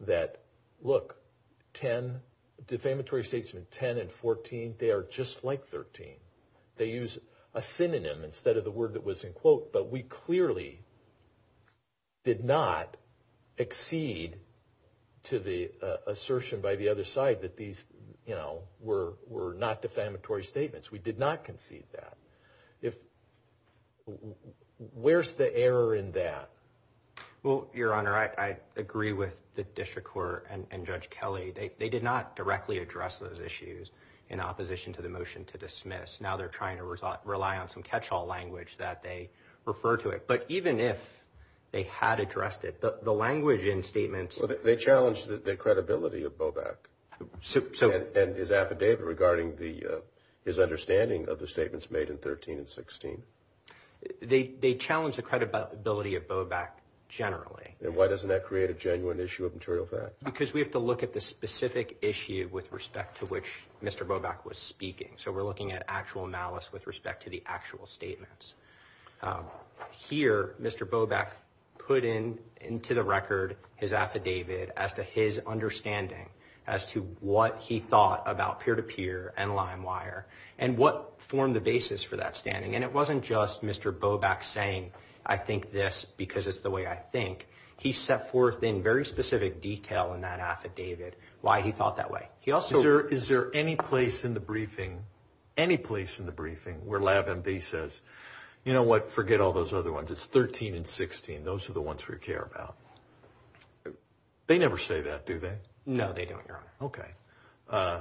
that, look, defamatory statements 10 and 14, they are just like 13? They use a synonym instead of the word that was in quote, but we clearly did not accede to the assertion by the other side that these were not defamatory statements. We did not concede that. Where's the error in that? Well, your honor, I agree with the district court and Judge Kelly. They did not directly address those issues in opposition to the motion to dismiss. Now they're trying to rely on some catch all language that they refer to it. But even if they had addressed it, the language in statements, they challenged the credibility of Bobak and his affidavit regarding the his understanding of the statements made in 13 and 16. They challenged the credibility of Bobak generally. And why doesn't that create a genuine issue of material fact? Because we have to look at the specific issue with respect to which Mr. Bobak was speaking. So we're looking at actual malice with respect to the actual statements here. Mr. Bobak put in into the record his affidavit as to his understanding as to what he thought about peer to peer and limewire and what formed the basis for that standing. And it wasn't just Mr. Bobak saying, I think this because it's the way I think. He set forth in very specific detail in that affidavit why he thought that way. He also is there any place in the briefing, any place in the briefing where lab and B says, you know what? Forget all those other ones. It's 13 and 16. Those are the ones we care about. They never say that, do they? No, they don't. Okay.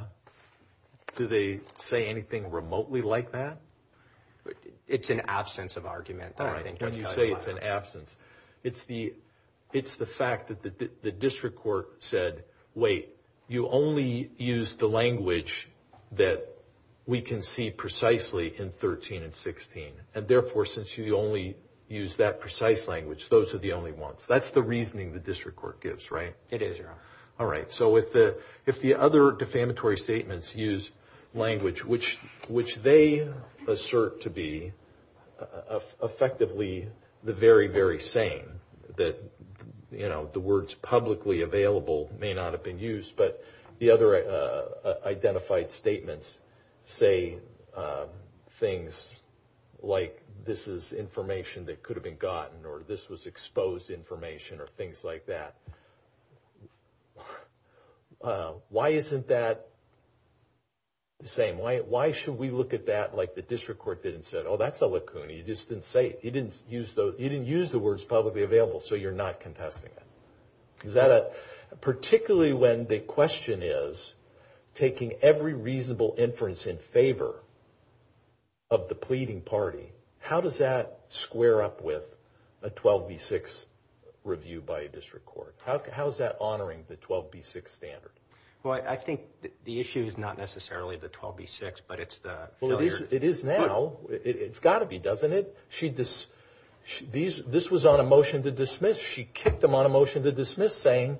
Do they say anything remotely like that? It's an absence of argument. All right. You say it's an absence. It's the fact that the district court said, wait, you only use the language that we can see precisely in 13 and 16. And, therefore, since you only use that precise language, those are the only ones. That's the reasoning the district court gives, right? It is. All right. So if the other defamatory statements use language which they assert to be effectively the very, very same, that, you know, the words publicly available may not have been used, but the other identified statements say things like this is information that could have been gotten or this was exposed information or things like that. Why isn't that the same? Why should we look at that like the district court didn't say, oh, that's a lacuna. You just didn't say it. You didn't use the words publicly available, so you're not contesting it. Particularly when the question is taking every reasonable inference in favor of the pleading party, how does that square up with a 12B6 review by a district court? How is that honoring the 12B6 standard? Well, I think the issue is not necessarily the 12B6, but it's the other. Well, it is now. It's got to be, doesn't it? This was on a motion to dismiss. She kicked them on a motion to dismiss saying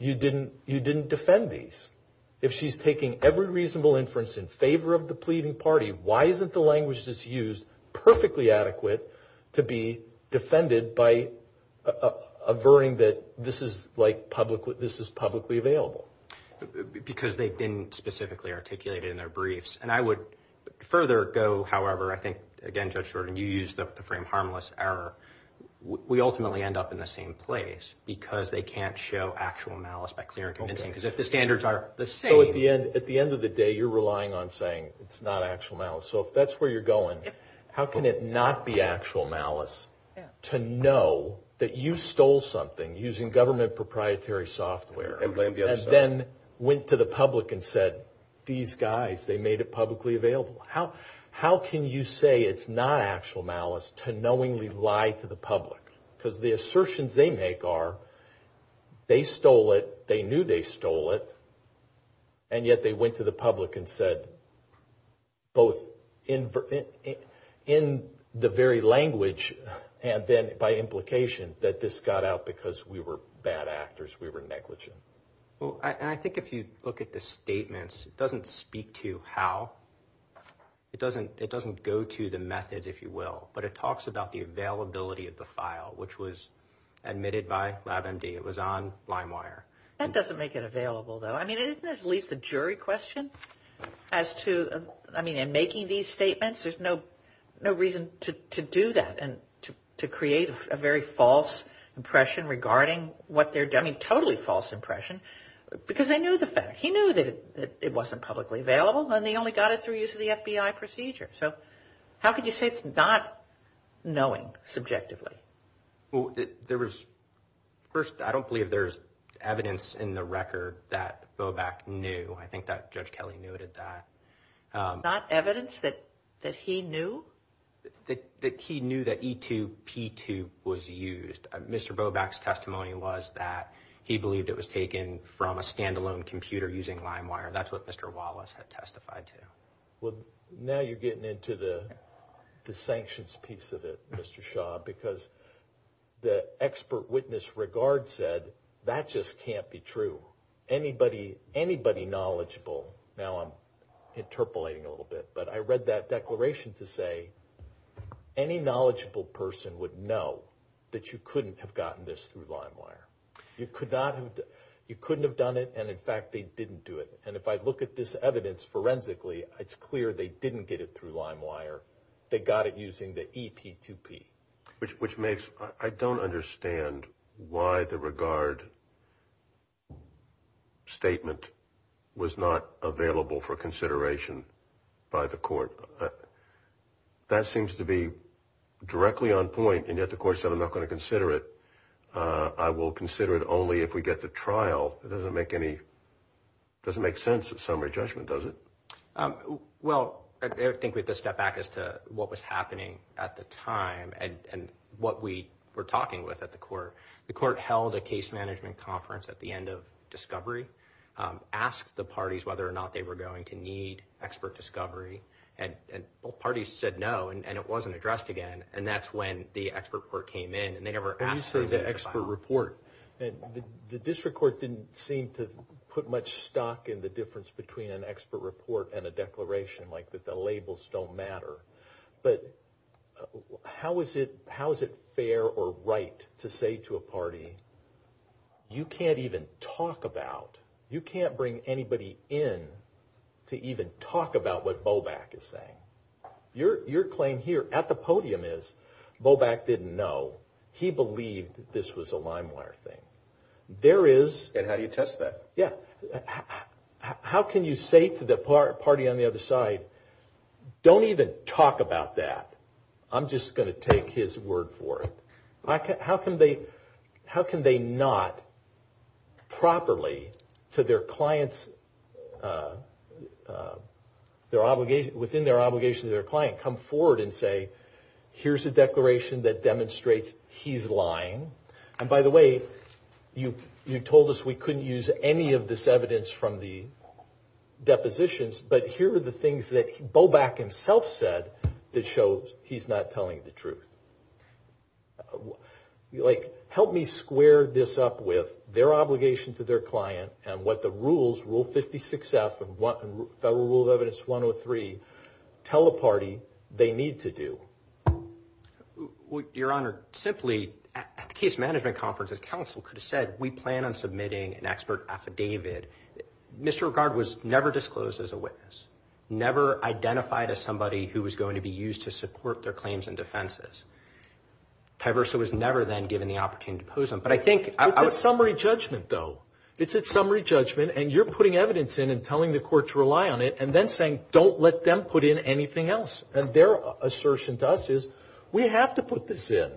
you didn't defend these. If she's taking every reasonable inference in favor of the pleading party, why isn't the language that's used perfectly adequate to be defended by averting that this is publicly available? Because they've been specifically articulated in their briefs. And I would further go, however, I think, again, Judge Jordan, you used the frame harmless error. We ultimately end up in the same place because they can't show actual malice by clear and convincing. Because if the standards are the same. So at the end of the day, you're relying on saying it's not actual malice. So if that's where you're going, how can it not be actual malice to know that you stole something using government proprietary software and then went to the public and said, these guys, they made it publicly available? How can you say it's not actual malice to knowingly lie to the public? Because the assertions they make are they stole it, they knew they stole it, and yet they went to the public and said both in the very language and then by implication that this got out because we were bad actors, we were negligent. Well, I think if you look at the statements, it doesn't speak to how. It doesn't go to the method, if you will, but it talks about the availability of the file, which was admitted by LabMD. It was on LimeWire. That doesn't make it available, though. I mean, isn't this at least a jury question as to, I mean, in making these statements? There's no reason to do that and to create a very false impression regarding what they're doing. I mean, totally false impression because they knew the fact. He knew that it wasn't publicly available, and they only got it through use of the FBI procedure. So how could you say it's not knowing subjectively? Well, there was, first, I don't believe there's evidence in the record that Bobak knew. I think that Judge Kelly noted that. Not evidence that he knew? That he knew that E2P2 was used. Mr. Bobak's testimony was that he believed it was taken from a standalone computer using LimeWire. That's what Mr. Wallace had testified to. Well, now you're getting into the sanctions piece of it, Mr. Shaw, because the expert witness regard said that just can't be true. Anybody knowledgeable, now I'm interpolating a little bit, but I read that declaration to say any knowledgeable person would know that you couldn't have gotten this through LimeWire. You couldn't have done it, and, in fact, they didn't do it. And if I look at this evidence forensically, it's clear they didn't get it through LimeWire. They got it using the E2P2. Which makes – I don't understand why the regard statement was not available for consideration by the court. That seems to be directly on point, and yet the court said I'm not going to consider it. I will consider it only if we get to trial. It doesn't make any – it doesn't make sense in summary judgment, does it? Well, I think we have to step back as to what was happening at the time and what we were talking with at the court. The court held a case management conference at the end of discovery, asked the parties whether or not they were going to need expert discovery, and both parties said no, and it wasn't addressed again. And that's when the expert court came in, and they never answered the expert report. The district court didn't seem to put much stock in the difference between an expert report and a declaration, like that the labels don't matter. But how is it fair or right to say to a party, you can't even talk about – you can't bring anybody in to even talk about what Bobak is saying? Your claim here at the podium is Bobak didn't know. He believed this was a Limewire thing. There is – And how do you test that? Yeah. How can you say to the party on the other side, don't even talk about that. I'm just going to take his word for it. How can they not properly to their client's – within their obligation to their client come forward and say, here's a declaration that demonstrates he's lying. And by the way, you told us we couldn't use any of this evidence from the depositions, but here are the things that Bobak himself said that shows he's not telling the truth. Like, help me square this up with their obligation to their client and what the rules, Rule 56F and Federal Rule of Evidence 103, tell a party they need to do. Your Honor, simply, at the case management conference, the counsel could have said, we plan on submitting an expert affidavit. Misregard was never disclosed as a witness, never identified as somebody who was going to be used to support their claims and defenses. Tyversa was never then given the opportunity to pose them. But I think – It's a summary judgment, though. It's a summary judgment, and you're putting evidence in and telling the court to rely on it and then saying, don't let them put in anything else. And their assertion to us is, we have to put this in.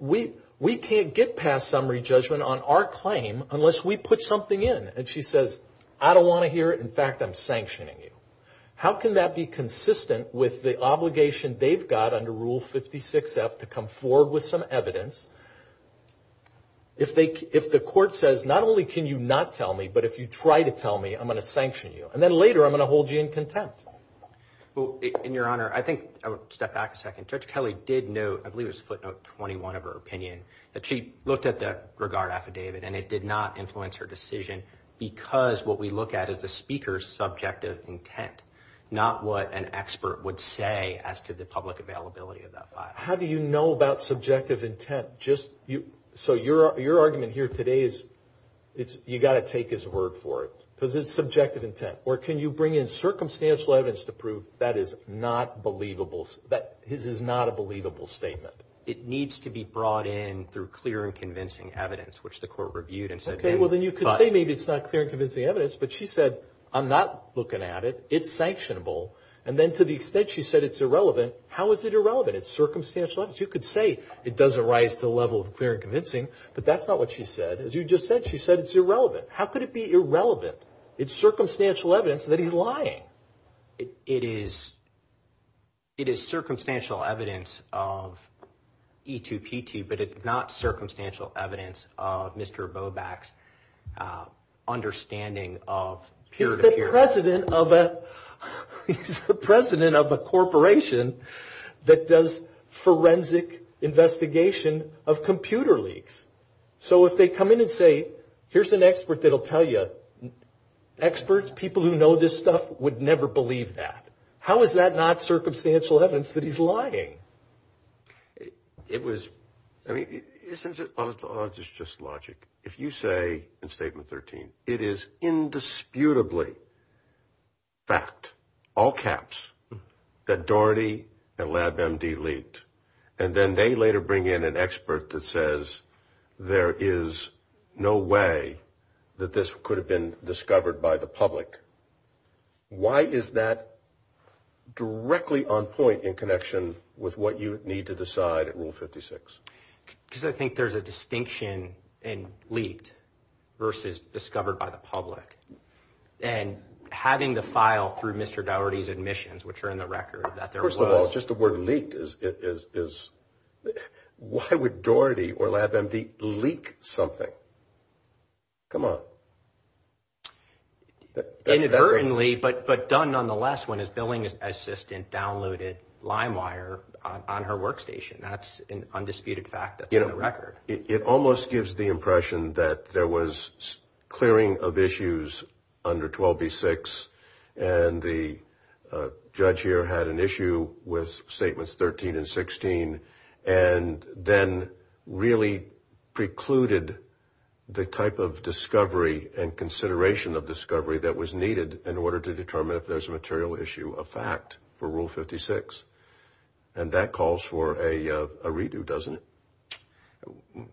We can't get past summary judgment on our claim unless we put something in. And she says, I don't want to hear it. In fact, I'm sanctioning you. How can that be consistent with the obligation they've got under Rule 56F to come forward with some evidence if the court says, not only can you not tell me, but if you try to tell me, I'm going to sanction you. And then later, I'm going to hold you in contempt. Well, Your Honor, I think – step back a second. Judge Kelly did note – I believe it was footnote 21 of her opinion – that she looked at the regard affidavit, and it did not influence her decision because what we look at is the speaker's subjective intent, not what an expert would say as to the public availability of that file. How do you know about subjective intent? So your argument here today is you've got to take his word for it because it's subjective intent. Or can you bring in circumstantial evidence to prove that is not a believable statement? It needs to be brought in through clear and convincing evidence, which the court reviewed and said – Okay, well, then you could say maybe it's not clear and convincing evidence, but she said, I'm not looking at it. It's sanctionable. And then to the extent she said it's irrelevant, how is it irrelevant? It's circumstantial evidence. You could say it doesn't rise to the level of clear and convincing, but that's not what she said. As you just said, she said it's irrelevant. How could it be irrelevant? It's circumstantial evidence that he's lying. It is circumstantial evidence of E2P2, but it's not circumstantial evidence of Mr. Bobak's understanding of peer-to-peer. He's the president of a corporation that does forensic investigation of computer leaks. So if they come in and say, here's an expert that will tell you, experts, people who know this stuff, would never believe that. How is that not circumstantial evidence that he's lying? It was – I mean, it's just logic. If you say in Statement 13, it is indisputably fact, all caps, that Doherty and LabMD leaked, and then they later bring in an expert that says, there is no way that this could have been discovered by the public. Why is that directly on point in connection with what you need to decide at Rule 56? Because I think there's a distinction in leaked versus discovered by the public, and having the file through Mr. Doherty's admissions, which are in the record, that there was. Just the word leaked is – why would Doherty or LabMD leak something? Come on. Inadvertently, but done nonetheless, when his billing assistant downloaded LimeWire on her workstation. That's an undisputed fact that's in the record. It almost gives the impression that there was clearing of issues under 12B6, and the judge here had an issue with Statements 13 and 16, and then really precluded the type of discovery and consideration of discovery that was needed in order to determine if there's a material issue of fact for Rule 56. And that calls for a redo, doesn't it?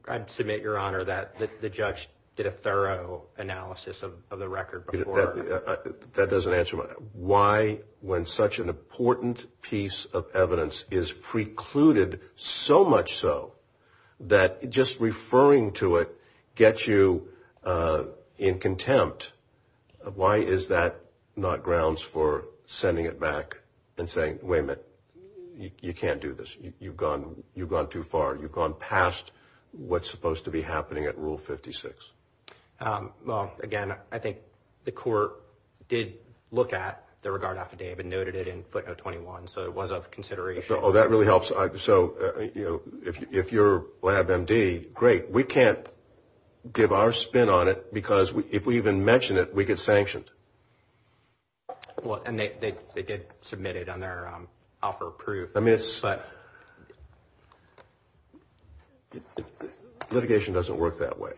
I submit, Your Honor, that the judge did a thorough analysis of the record before. That doesn't answer my question. Why, when such an important piece of evidence is precluded so much so, that just referring to it gets you in contempt, why is that not grounds for sending it back and saying, wait a minute, you can't do this. You've gone too far. You've gone past what's supposed to be happening at Rule 56. Well, again, I think the court did look at the regard affidavit and noted it in footnote 21, so it was of consideration. Oh, that really helps. So, you know, if you're Lab MD, great. We can't give our spin on it because if we even mention it, we get sanctioned. Well, and they did submit it on their offer of proof. I mean, litigation doesn't work that way.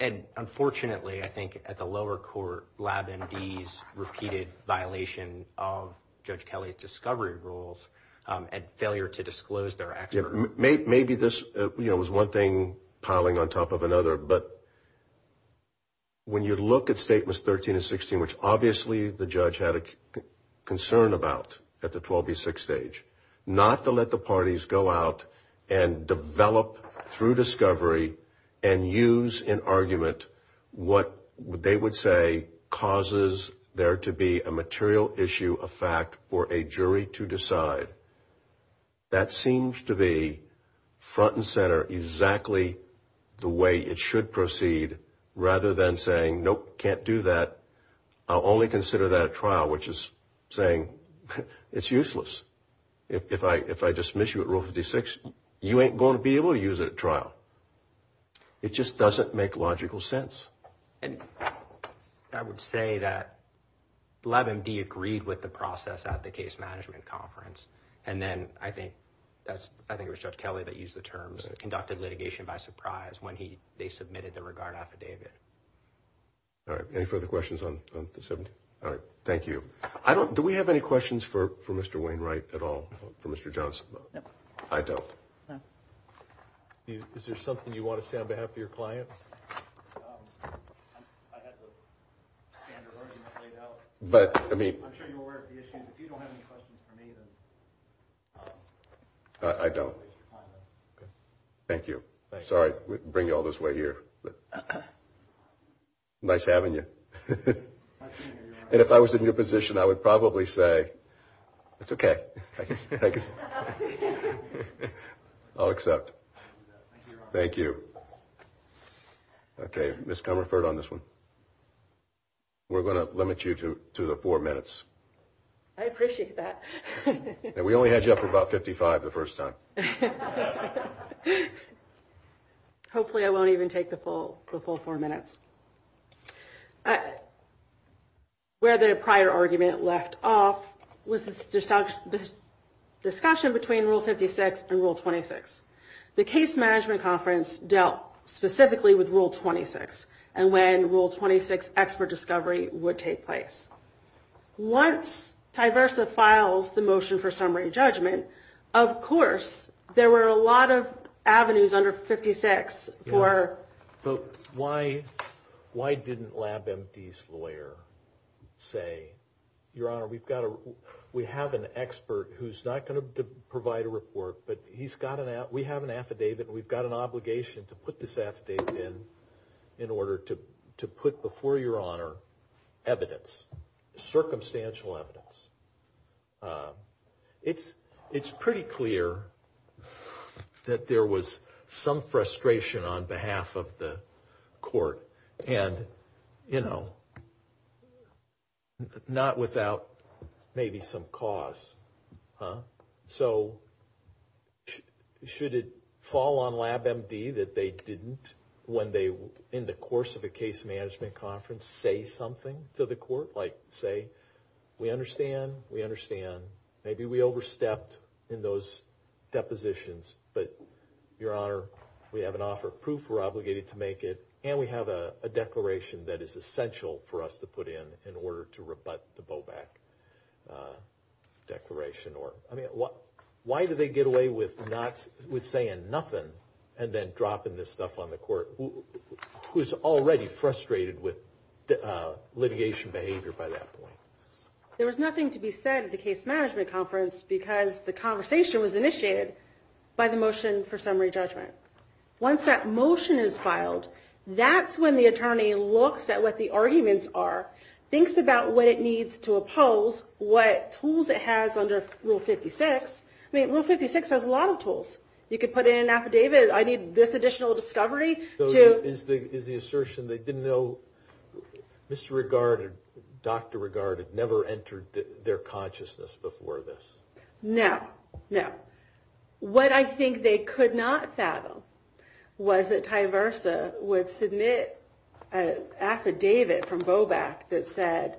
And unfortunately, I think at the lower court, Lab MD's repeated violation of Judge Kelly's discovery rules and failure to disclose their actions. Maybe this was one thing piling on top of another. But when you look at Statements 13 and 16, which obviously the judge had a concern about at the 12B6 stage, not to let the parties go out and develop through discovery and use in argument what they would say causes there to be a material issue of fact for a jury to decide, that seems to be front and center exactly the way it should proceed, rather than saying, nope, can't do that. I'll only consider that trial, which is saying it's useless. If I dismiss you at Rule 56, you ain't going to be able to use it at trial. It just doesn't make logical sense. I would say that Lab MD agreed with the process at the case management conference. And then I think it was Judge Kelly that used the terms, conducted litigation by surprise when they submitted the regard affidavit. All right. Any further questions on this? All right. Thank you. Do we have any questions for Mr. Wainwright at all, for Mr. Johnson? No. I don't. Is there something you want to say on behalf of your client? I don't. Thank you. Sorry to bring you all this way here. Nice having you. And if I was in your position, I would probably say, it's okay. I'll accept. Thank you. Okay. Ms. Comerford on this one. We're going to limit you to the four minutes. I appreciate that. And we only had you up for about 55 the first time. Hopefully I won't even take the full four minutes. Where the prior argument left off was the discussion between Rule 56 and Rule 26. The case management conference dealt specifically with Rule 26 and when Rule 26 expert discovery would take place. Once Tyversa files the motion for summary judgment, of course there were a lot of avenues under 56 for – So why didn't LabMD's lawyer say, Your Honor, we have an expert who's not going to provide a report, but we have an affidavit and we've got an obligation to put this affidavit in in order to put before Your Honor evidence, circumstantial evidence. It's pretty clear that there was some frustration on behalf of the court and, you know, not without maybe some cause. So should it fall on LabMD that they didn't, when they, in the course of a case management conference, say something to the court? Like say, we understand, we understand. Maybe we overstepped in those depositions, but Your Honor, we have an offer of proof, we're obligated to make it, and we have a declaration that is essential for us to put in in order to rebut the Bowback declaration. Why do they get away with saying nothing and then dropping this stuff on the court? Who's already frustrated with litigation behavior by that point? There was nothing to be said at the case management conference because the conversation was initiated by the motion for summary judgment. Once that motion is filed, that's when the attorney looks at what the arguments are, thinks about what it needs to oppose, what tools it has under Rule 56. I mean, Rule 56 has a lot of tools. You could put in an affidavit, I need this additional discovery. So is the assertion they didn't know Mr. Regard and Dr. Regard had never entered their consciousness before this? No, no. What I think they could not fathom was that Ty Versa would submit an affidavit from Bowback that said,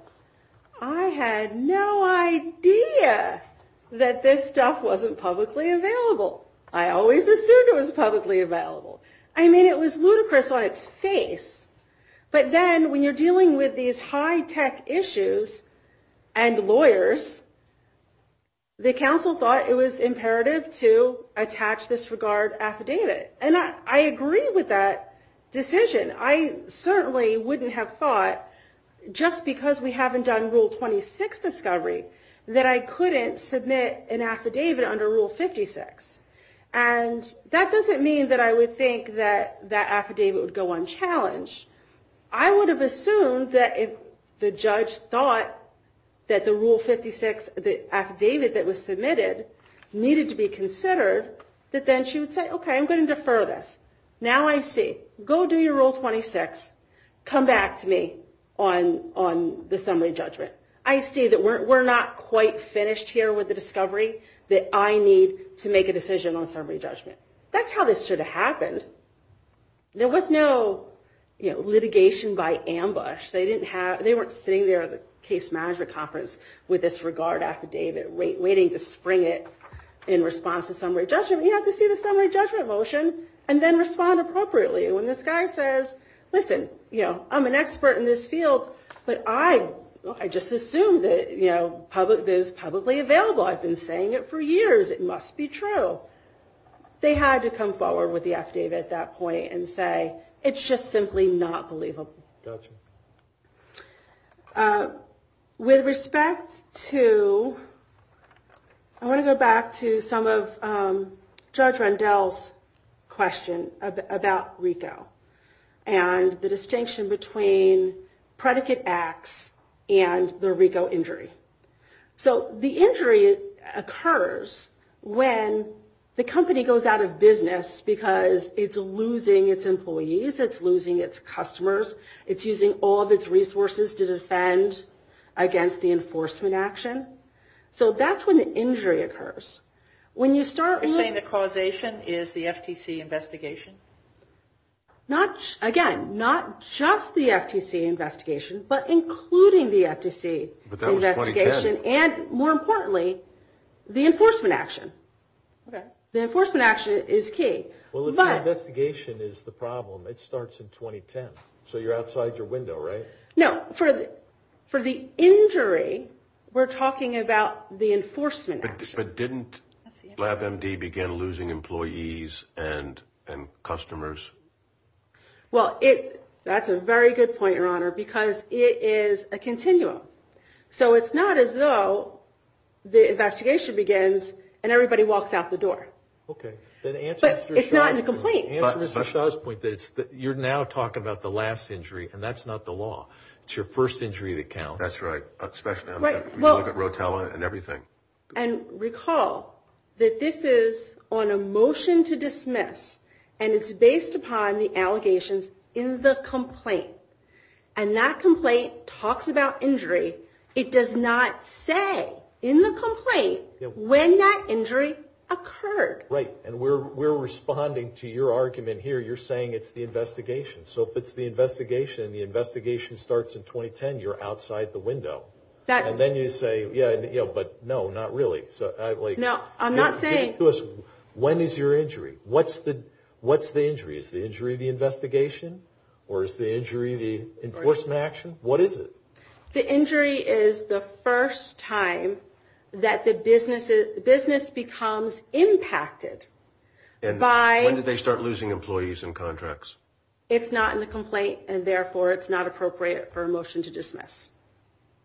I had no idea that this stuff wasn't publicly available. I always assumed it was publicly available. I mean, it was ludicrous on its face. But then when you're dealing with these high-tech issues and lawyers, the counsel thought it was imperative to attach this Regard affidavit. And I agree with that decision. And I certainly wouldn't have thought, just because we haven't done Rule 26 discovery, that I couldn't submit an affidavit under Rule 56. And that doesn't mean that I would think that that affidavit would go unchallenged. I would have assumed that if the judge thought that the Rule 56 affidavit that was submitted needed to be considered, that then she would say, okay, I'm going to defer this. Now I see. Go do your Rule 26. Come back to me on the summary judgment. I see that we're not quite finished here with the discovery that I need to make a decision on summary judgment. That's how this should have happened. There was no litigation by ambush. They weren't sitting there at the case management conference with this Regard affidavit waiting to spring it in response to summary judgment. You have to see the summary judgment motion and then respond appropriately when this guy says, listen, I'm an expert in this field, but I just assumed that this is publicly available. I've been saying it for years. It must be true. They had to come forward with the affidavit at that point and say, it's just simply not believable. With respect to, I want to go back to some of Judge Rendell's question about RICO and the distinction between predicate acts and the RICO injury. So the injury occurs when the company goes out of business because it's losing its employees, it's losing its customers, it's using all of its resources to defend against the enforcement action. So that's when the injury occurs. You're saying the causation is the FTC investigation? Again, not just the FTC investigation, but including the FTC investigation and, more importantly, the enforcement action. The enforcement action is key. The investigation is the problem. It starts in 2010. So you're outside your window, right? No. For the injury, we're talking about the enforcement action. But didn't LabMD begin losing employees and customers? Well, that's a very good point, Your Honor, because it is a continuum. So it's not as though the investigation begins and everybody walks out the door. Okay. But it's not in the complaint. The answer to Michelle's point is that you're now talking about the last injury, and that's not the law. It's your first injury to count. That's right, especially with Rotella and everything. And recall that this is on a motion to dismiss, and it's based upon the allegations in the complaint. And that complaint talks about injury. It does not say in the complaint when that injury occurred. Right. And we're responding to your argument here. You're saying it's the investigation. So if it's the investigation and the investigation starts in 2010, you're outside the window. And then you say, yeah, but no, not really. No, I'm not saying. When is your injury? What's the injury? Is the injury the investigation or is the injury the enforcement action? What is it? The injury is the first time that the business becomes impacted. And when did they start losing employees and contracts? It's not in the complaint, and, therefore, it's not appropriate for a motion to dismiss.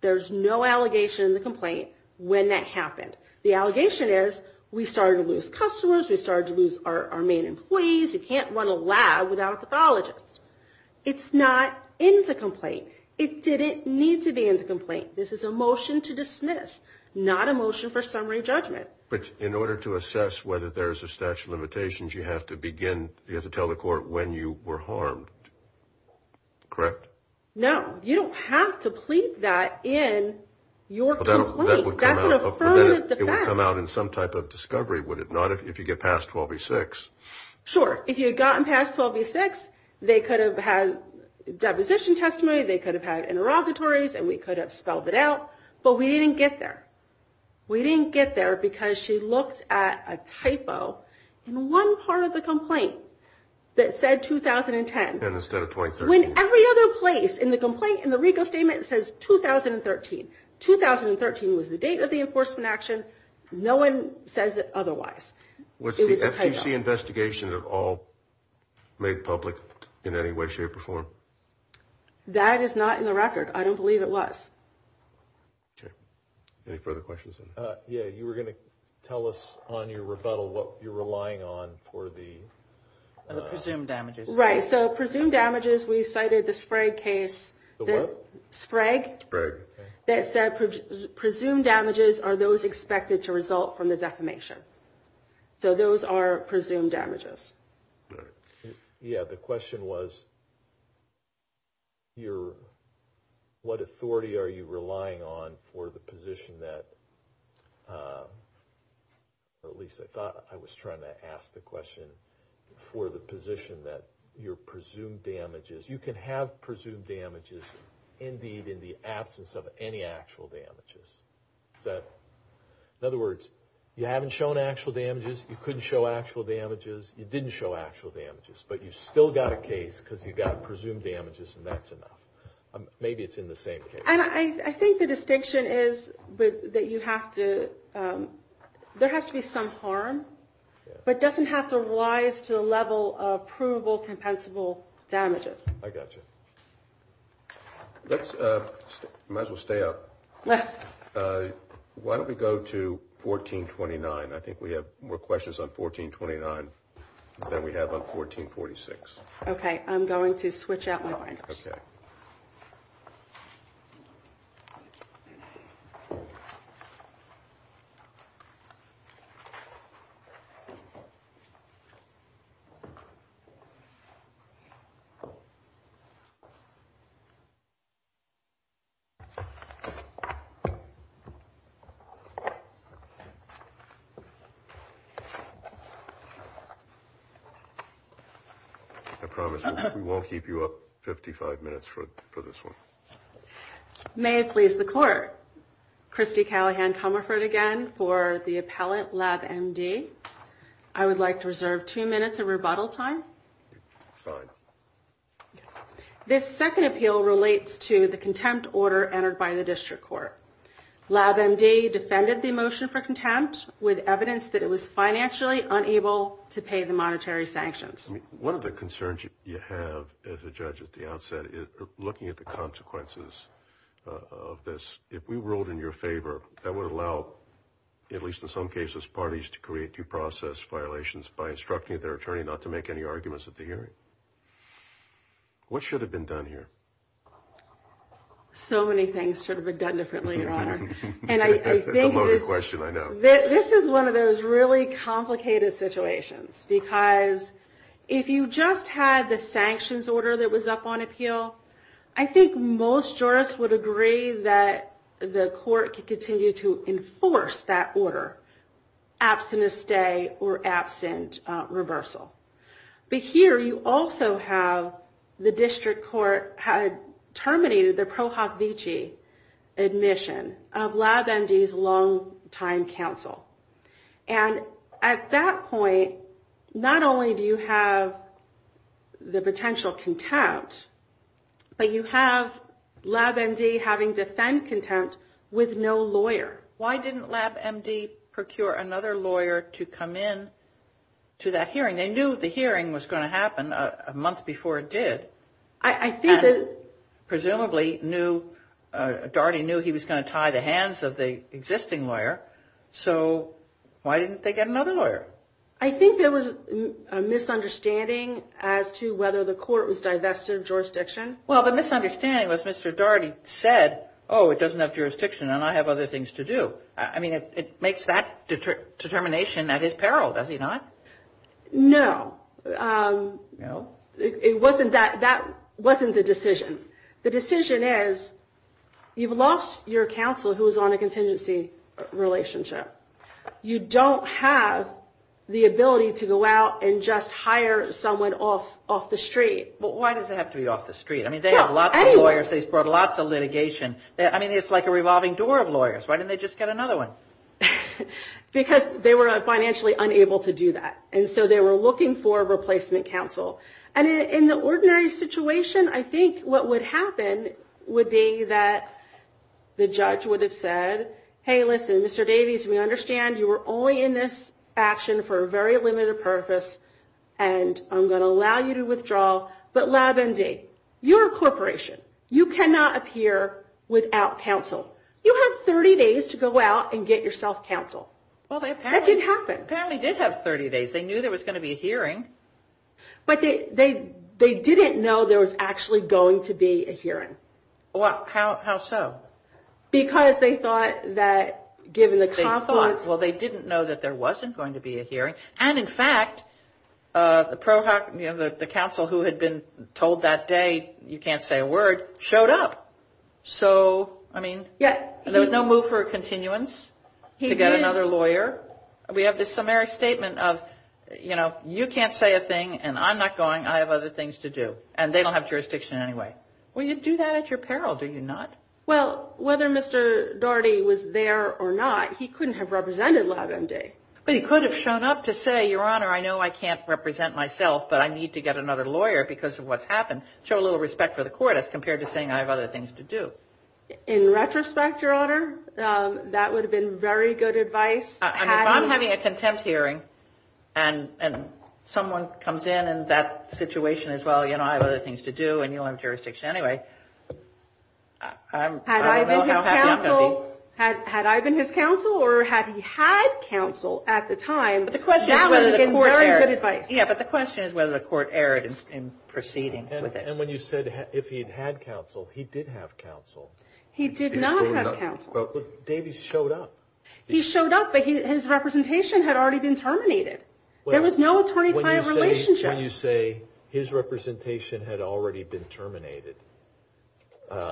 There's no allegation in the complaint when that happened. The allegation is we started to lose customers, we started to lose our main employees. You can't run a lab without a pathologist. It's not in the complaint. It didn't need to be in the complaint. This is a motion to dismiss, not a motion for summary judgment. But in order to assess whether there's a statute of limitations, you have to tell the court when you were harmed, correct? No. You don't have to plead that in your complaint. That would affirm the fact. It would come out in some type of discovery, would it not, if you get past 12B6? Sure. If you had gotten past 12B6, they could have had deposition testimony, they could have had interrogatories, and we could have spelled it out. But we didn't get there. We didn't get there because she looked at a typo in one part of the complaint that said 2010. And instead of 2013. When every other place in the complaint, in the RICO statement, says 2013. 2013 was the date of the enforcement action. No one says it otherwise. Was the FCC investigation at all made public in any way, shape, or form? That is not in the record. I don't believe it was. Okay. Any further questions? Yeah, you were going to tell us on your rebuttal what you're relying on for the... The presumed damages. Right. So presumed damages, we cited the Sprague case. The what? Sprague. Sprague. That said presumed damages are those expected to result from the defamation. So those are presumed damages. Okay. Yeah, the question was what authority are you relying on for the position that... At least I thought I was trying to ask the question for the position that your presumed damages. You can have presumed damages indeed in the absence of any actual damages. In other words, you haven't shown actual damages. You couldn't show actual damages. You didn't show actual damages, but you still got a case because you got presumed damages, and that's enough. Maybe it's in the same case. I think the distinction is that you have to... There has to be some harm, but it doesn't have to rise to the level of provable, compensable damages. I got you. Let's... Might as well stay up. Why don't we go to 1429? I think we have more questions on 1429 than we have on 1446. Okay, I'm going to switch out my... Okay. I promise we won't keep you up 55 minutes for this one. May it please the court. Christy Callahan-Tummerford again for the appellant, Lab MD. I would like to reserve two minutes of rebuttal time. Fine. This second appeal relates to the contempt order entered by the district court. Lab MD defended the motion for contempt with evidence that it was financially unable to pay the monetary sanctions. One of the concerns you have as a judge at the outset is looking at the consequences of this. If we ruled in your favor, that would allow, at least in some cases, parties to create due process violations by instructing their attorney not to make any arguments at the hearing. What should have been done here? So many things should have been done differently, Your Honor. That's a loaded question, I know. This is one of those really complicated situations, because if you just had the sanctions order that was up on appeal, I think most jurists would agree that the court could continue to enforce that order, absent a stay or absent reversal. But here you also have the district court had terminated the ProHovici admission of Lab MD's long-time counsel. And at that point, not only do you have the potential contempt, but you have Lab MD having defend contempt with no lawyer. Why didn't Lab MD procure another lawyer to come in to that hearing? They knew the hearing was going to happen a month before it did. I think that... Presumably knew, Doherty knew he was going to tie the hands of the existing lawyer, so why didn't they get another lawyer? I think there was a misunderstanding as to whether the court was divested of jurisdiction. Well, the misunderstanding was Mr. Doherty said, oh, it doesn't have jurisdiction and I have other things to do. I mean, it makes that determination at his peril, does it not? No. No? It wasn't that. That wasn't the decision. The decision is, you've lost your counsel who is on a contingency relationship. You don't have the ability to go out and just hire someone off the street. Why does it have to be off the street? I mean, they have lots of lawyers. They've brought lots of litigation. I mean, it's like a revolving door of lawyers. Why didn't they just get another one? Because they were financially unable to do that, and so they were looking for a replacement counsel. In the ordinary situation, I think what would happen would be that the judge would have said, hey, listen, Mr. Davies, we understand you were only in this action for a very limited purpose, and I'm going to allow you to withdraw, but LabMD, you're a corporation. You cannot appear without counsel. You have 30 days to go out and get yourself counsel. That didn't happen. Well, they apparently did have 30 days. They knew there was going to be a hearing. But they didn't know there was actually going to be a hearing. Well, how so? Because they thought that given the confluence. Well, they didn't know that there wasn't going to be a hearing, and, in fact, the counsel who had been told that day you can't say a word showed up. So, I mean, there was no move for a continuance to get another lawyer. We have this summary statement of, you know, you can't say a thing, and I'm not going. I have other things to do, and they don't have jurisdiction anyway. Well, you do that at your peril, do you not? Well, whether Mr. Daugherty was there or not, he couldn't have represented LabMD. Well, he could have shown up to say, Your Honor, I know I can't represent myself, but I need to get another lawyer because of what's happened. Show a little respect for the court as compared to saying I have other things to do. In retrospect, Your Honor, that would have been very good advice. If I'm having a contempt hearing and someone comes in and that situation is, well, you know, I have other things to do and you don't have jurisdiction anyway. Had I been his counsel or had he had counsel at the time, that would have been very good advice. Yeah, but the question is whether the court erred in proceeding with this. And when you said if he had counsel, he did have counsel. He did not have counsel. But Davies showed up. He showed up, but his representation had already been terminated. There was no attorney-client relationship. So you say his representation had already been terminated. Now,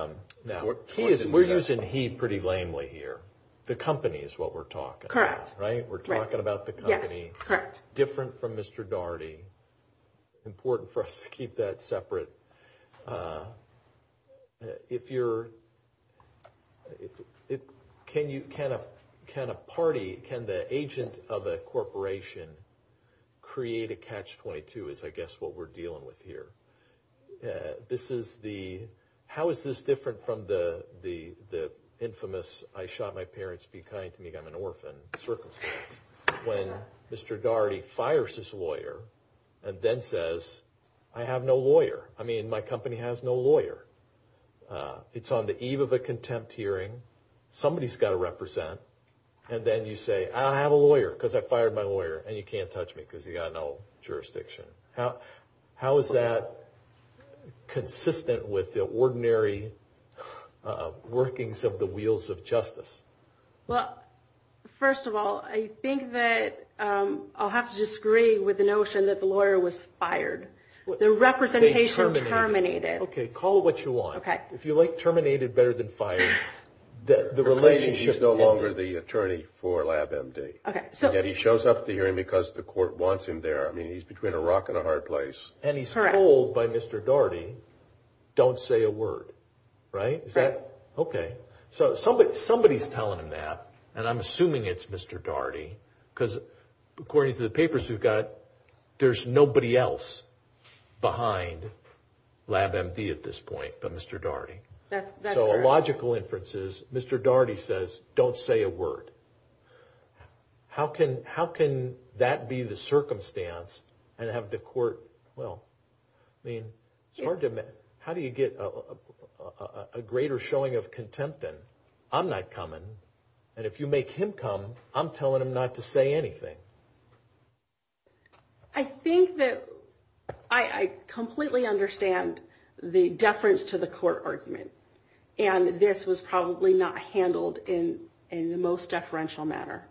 we're using he pretty lamely here. The company is what we're talking about. Correct. Right? We're talking about the company. Yes, correct. Different from Mr. Daugherty. It's important for us to keep that separate. If you're – can a party, can the agent of a corporation create a catch-22 is, I guess, what we're dealing with here. This is the – how is this different from the infamous I shot my parents, be kind to me, I'm an orphan circumstance, when Mr. Daugherty fires his lawyer and then says, I have no lawyer. I mean, my company has no lawyer. It's on the eve of a contempt hearing. Somebody's got to represent. And then you say, I have a lawyer because I fired my lawyer, and you can't touch me because you've got no jurisdiction. How is that consistent with the ordinary workings of the wheels of justice? Well, first of all, I think that I'll have to disagree with the notion that the lawyer was fired. The representation terminated. Okay. Call it what you want. Okay. If you like terminated better than fired, the relationship – He's no longer the attorney for LabMD. Okay. He shows up at the hearing because the court wants him there. I mean, he's between a rock and a hard place. And he's told by Mr. Daugherty, don't say a word. Right? Right. Okay. So somebody's telling him that, and I'm assuming it's Mr. Daugherty because according to the papers we've got, there's nobody else behind LabMD at this point but Mr. Daugherty. That's correct. So a logical inference is Mr. Daugherty says, don't say a word. How can that be the circumstance and have the court – well, I mean, it's hard to – how do you get a greater showing of contempt than, I'm not coming, and if you make him come, I'm telling him not to say anything. I think that I completely understand the deference to the court argument, and this was probably not handled in the most deferential manner.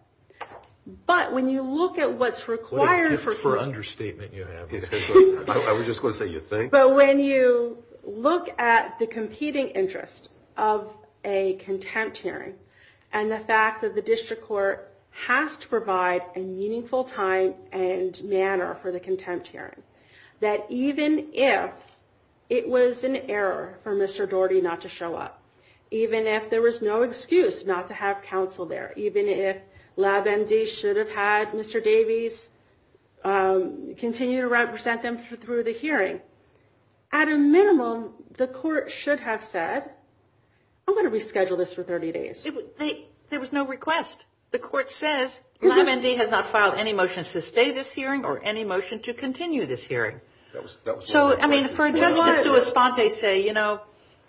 But when you look at what's required for – For understatement you have. I was just going to say you think. But when you look at the competing interests of a contempt hearing and the fact that the district court has to provide a meaningful time and manner for the contempt hearing, that even if it was an error for Mr. Daugherty not to show up, even if there was no excuse not to have counsel there, even if LabMD should have had Mr. Davies continue to represent them through the hearing, at a minimum the court should have said, I'm going to reschedule this for 30 days. There was no request. The court says LabMD has not filed any motions to stay this hearing or any motion to continue this hearing. So, I mean, for a judge to respond, they'd say, you know,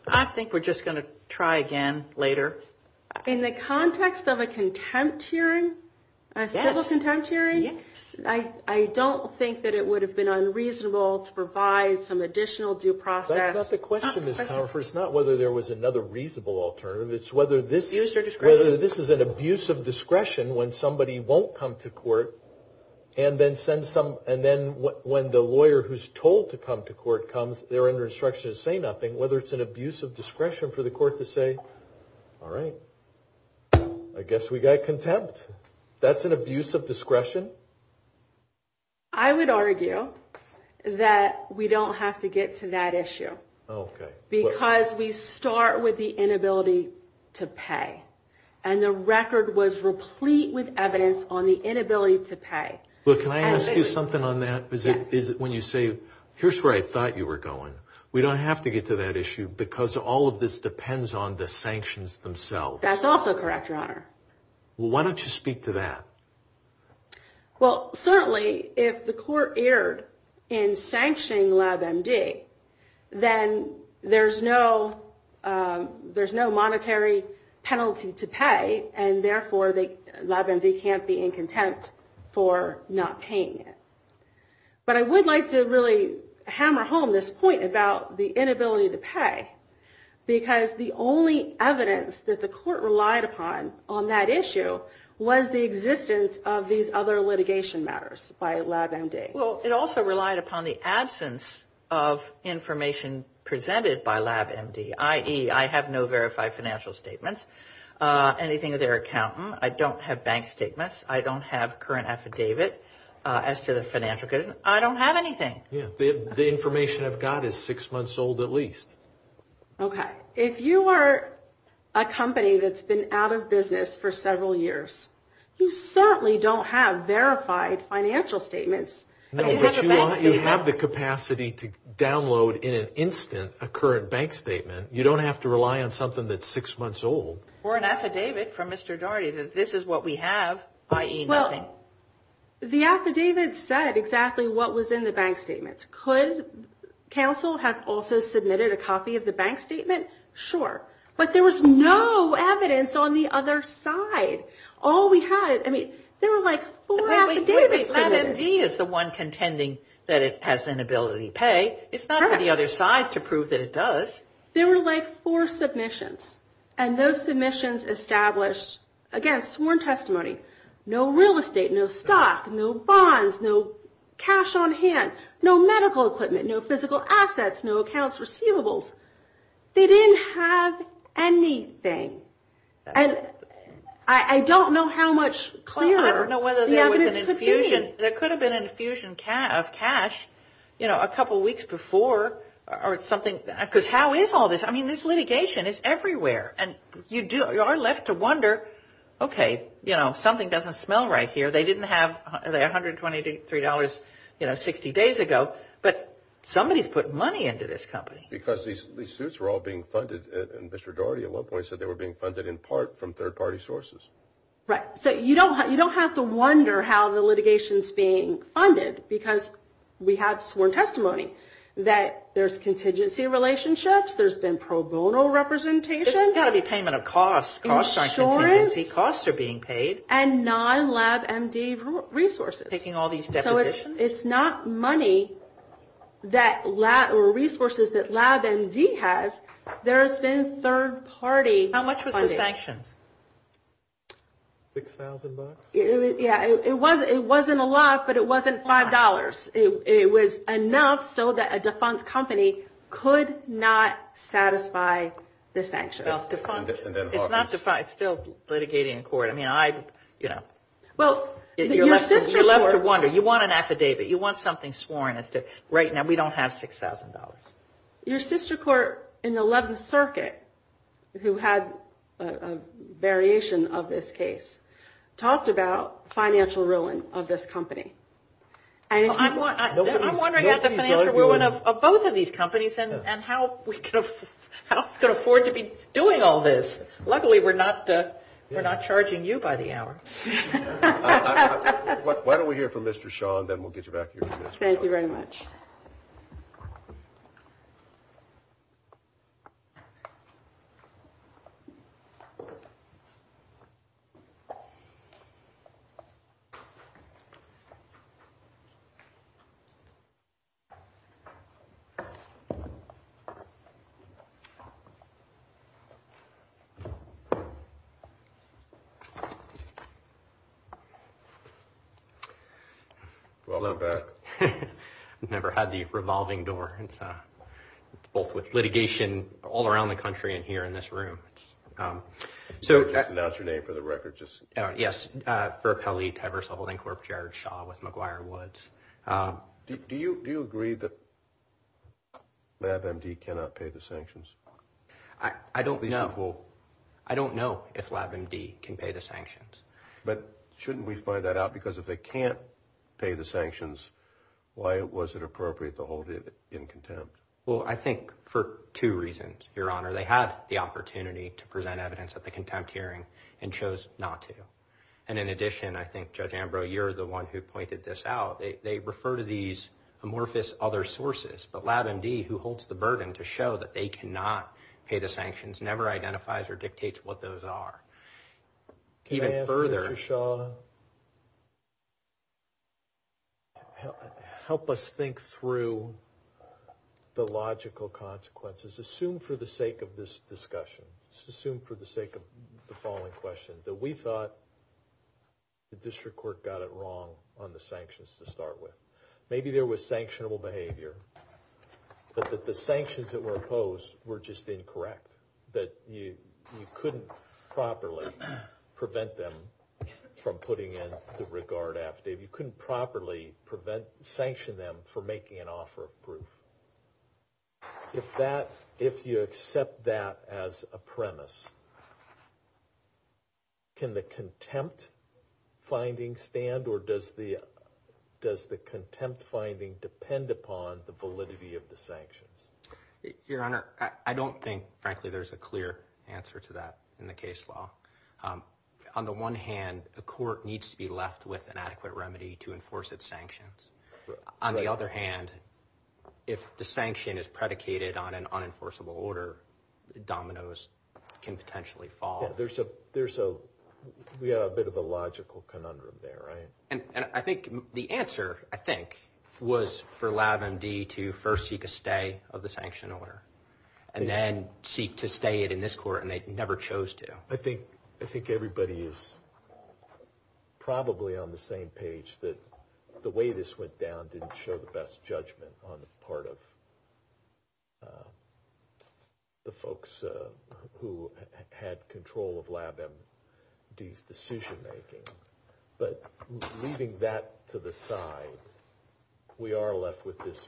I think we're just going to try again later. In the context of a contempt hearing, a civil contempt hearing, I don't think that it would have been unreasonable to provide some additional due process. That's not the question, Ms. Confer. It's not whether there was another reasonable alternative. It's whether this is an abuse of discretion when somebody won't come to court and then when the lawyer who's told to come to court comes, they're under instruction to say nothing. And whether it's an abuse of discretion for the court to say, all right, I guess we got contempt. That's an abuse of discretion? I would argue that we don't have to get to that issue because we start with the inability to pay. And the record was replete with evidence on the inability to pay. Well, can I ask you something on that? Is it when you say, here's where I thought you were going. We don't have to get to that issue because all of this depends on the sanctions themselves. That's also correct, Your Honor. Well, why don't you speak to that? Well, certainly if the court erred in sanctioning LabMD, then there's no monetary penalty to pay, and therefore LabMD can't be in contempt for not paying it. But I would like to really hammer home this point about the inability to pay because the only evidence that the court relied upon on that issue was the existence of these other litigation matters by LabMD. Well, it also relied upon the absence of information presented by LabMD, i.e., I have no verified financial statements, anything of their accountant. I don't have bank statements. I don't have current affidavit as to the financial credit. I don't have anything. The information I've got is six months old at least. Okay. If you are a company that's been out of business for several years, you certainly don't have verified financial statements. No, but you have the capacity to download in an instant a current bank statement. You don't have to rely on something that's six months old. Or an affidavit from Mr. Daugherty that this is what we have, i.e., nothing. Well, the affidavit said exactly what was in the bank statement. Could counsel have also submitted a copy of the bank statement? Sure. But there was no evidence on the other side. All we had, I mean, there were like four affidavits submitted. LabMD is the one contending that it has inability to pay. It's not on the other side to prove that it does. There were like four submissions, and those submissions established, again, sworn testimony. No real estate. No stock. No bonds. No cash on hand. No medical equipment. No physical assets. No accounts receivables. They didn't have anything. And I don't know how much clearer the evidence could be. Well, I don't know whether there was an infusion. There could have been an infusion of cash, you know, a couple weeks before or something. Because how is all this? I mean, this litigation is everywhere. And you are left to wonder, okay, you know, something doesn't smell right here. They didn't have $123, you know, 60 days ago. But somebody put money into this company. Because these suits were all being funded, and Mr. Dougherty at one point said they were being funded in part from third-party sources. Right. So you don't have to wonder how the litigation is being funded, because we had sworn testimony that there's contingency relationships, there's been pro bono representation. It's not a payment of costs. Insurance. Costs are being paid. And non-LabMD resources. Taking all these depositions. So it's not money or resources that LabMD has. There has been third-party funding. How much was the sanction? $6,000. Yeah, it wasn't a lot, but it wasn't $5. It was enough so that a defunct company could not satisfy the sanctions. It's not defunct. It's still litigating in court. I mean, I, you know, you're left to wonder. You want an affidavit. You want something sworn. Right now we don't have $6,000. Your sister court in the 11th Circuit, who had a variation of this case, talked about financial ruin of this company. I'm wondering about the financial ruin of both of these companies and how we can afford to be doing all this. Luckily, we're not charging you by the hour. Why don't we hear from Mr. Shaw, and then we'll get you back here. Thank you very much. Thank you. Well, I've never had the revolving door. Both with litigation all around the country and here in this room. Just announce your name for the record. Yes. Do you agree that LabMD cannot pay the sanctions? I don't know if LabMD can pay the sanctions. But shouldn't we find that out? Because if they can't pay the sanctions, why was it appropriate to hold it in contempt? Well, I think for two reasons, Your Honor. They had the opportunity to present evidence at the contempt hearing and chose not to. And in addition, I think, Judge Ambrose, you're the one who pointed this out. They refer to these amorphous other sources. But LabMD, who holds the burden to show that they cannot pay the sanctions, never identifies or dictates what those are. Even further, Your Honor, help us think through the logical consequences. Assume for the sake of this discussion, assume for the sake of the following questions, that we thought the district court got it wrong on the sanctions to start with. Maybe there was sanctionable behavior, but that the sanctions that were imposed were just incorrect, that you couldn't properly prevent them from putting in the regard after. You couldn't properly sanction them for making an offer of proof. If you accept that as a premise, can the contempt finding stand, or does the contempt finding depend upon the validity of the sanctions? Your Honor, I don't think, frankly, there's a clear answer to that in the case law. On the one hand, the court needs to be left with an adequate remedy to enforce its sanctions. On the other hand, if the sanction is predicated on an unenforceable order, dominoes can potentially fall. There's a bit of a logical conundrum there, right? And I think the answer, I think, was for LabMD to first seek a stay of the sanction order, and then seek to stay it in this court, and they never chose to. I think everybody is probably on the same page, that the way this went down didn't show the best judgment on the part of the folks who had control of LabMD's decision-making. But leaving that to the side, we are left with this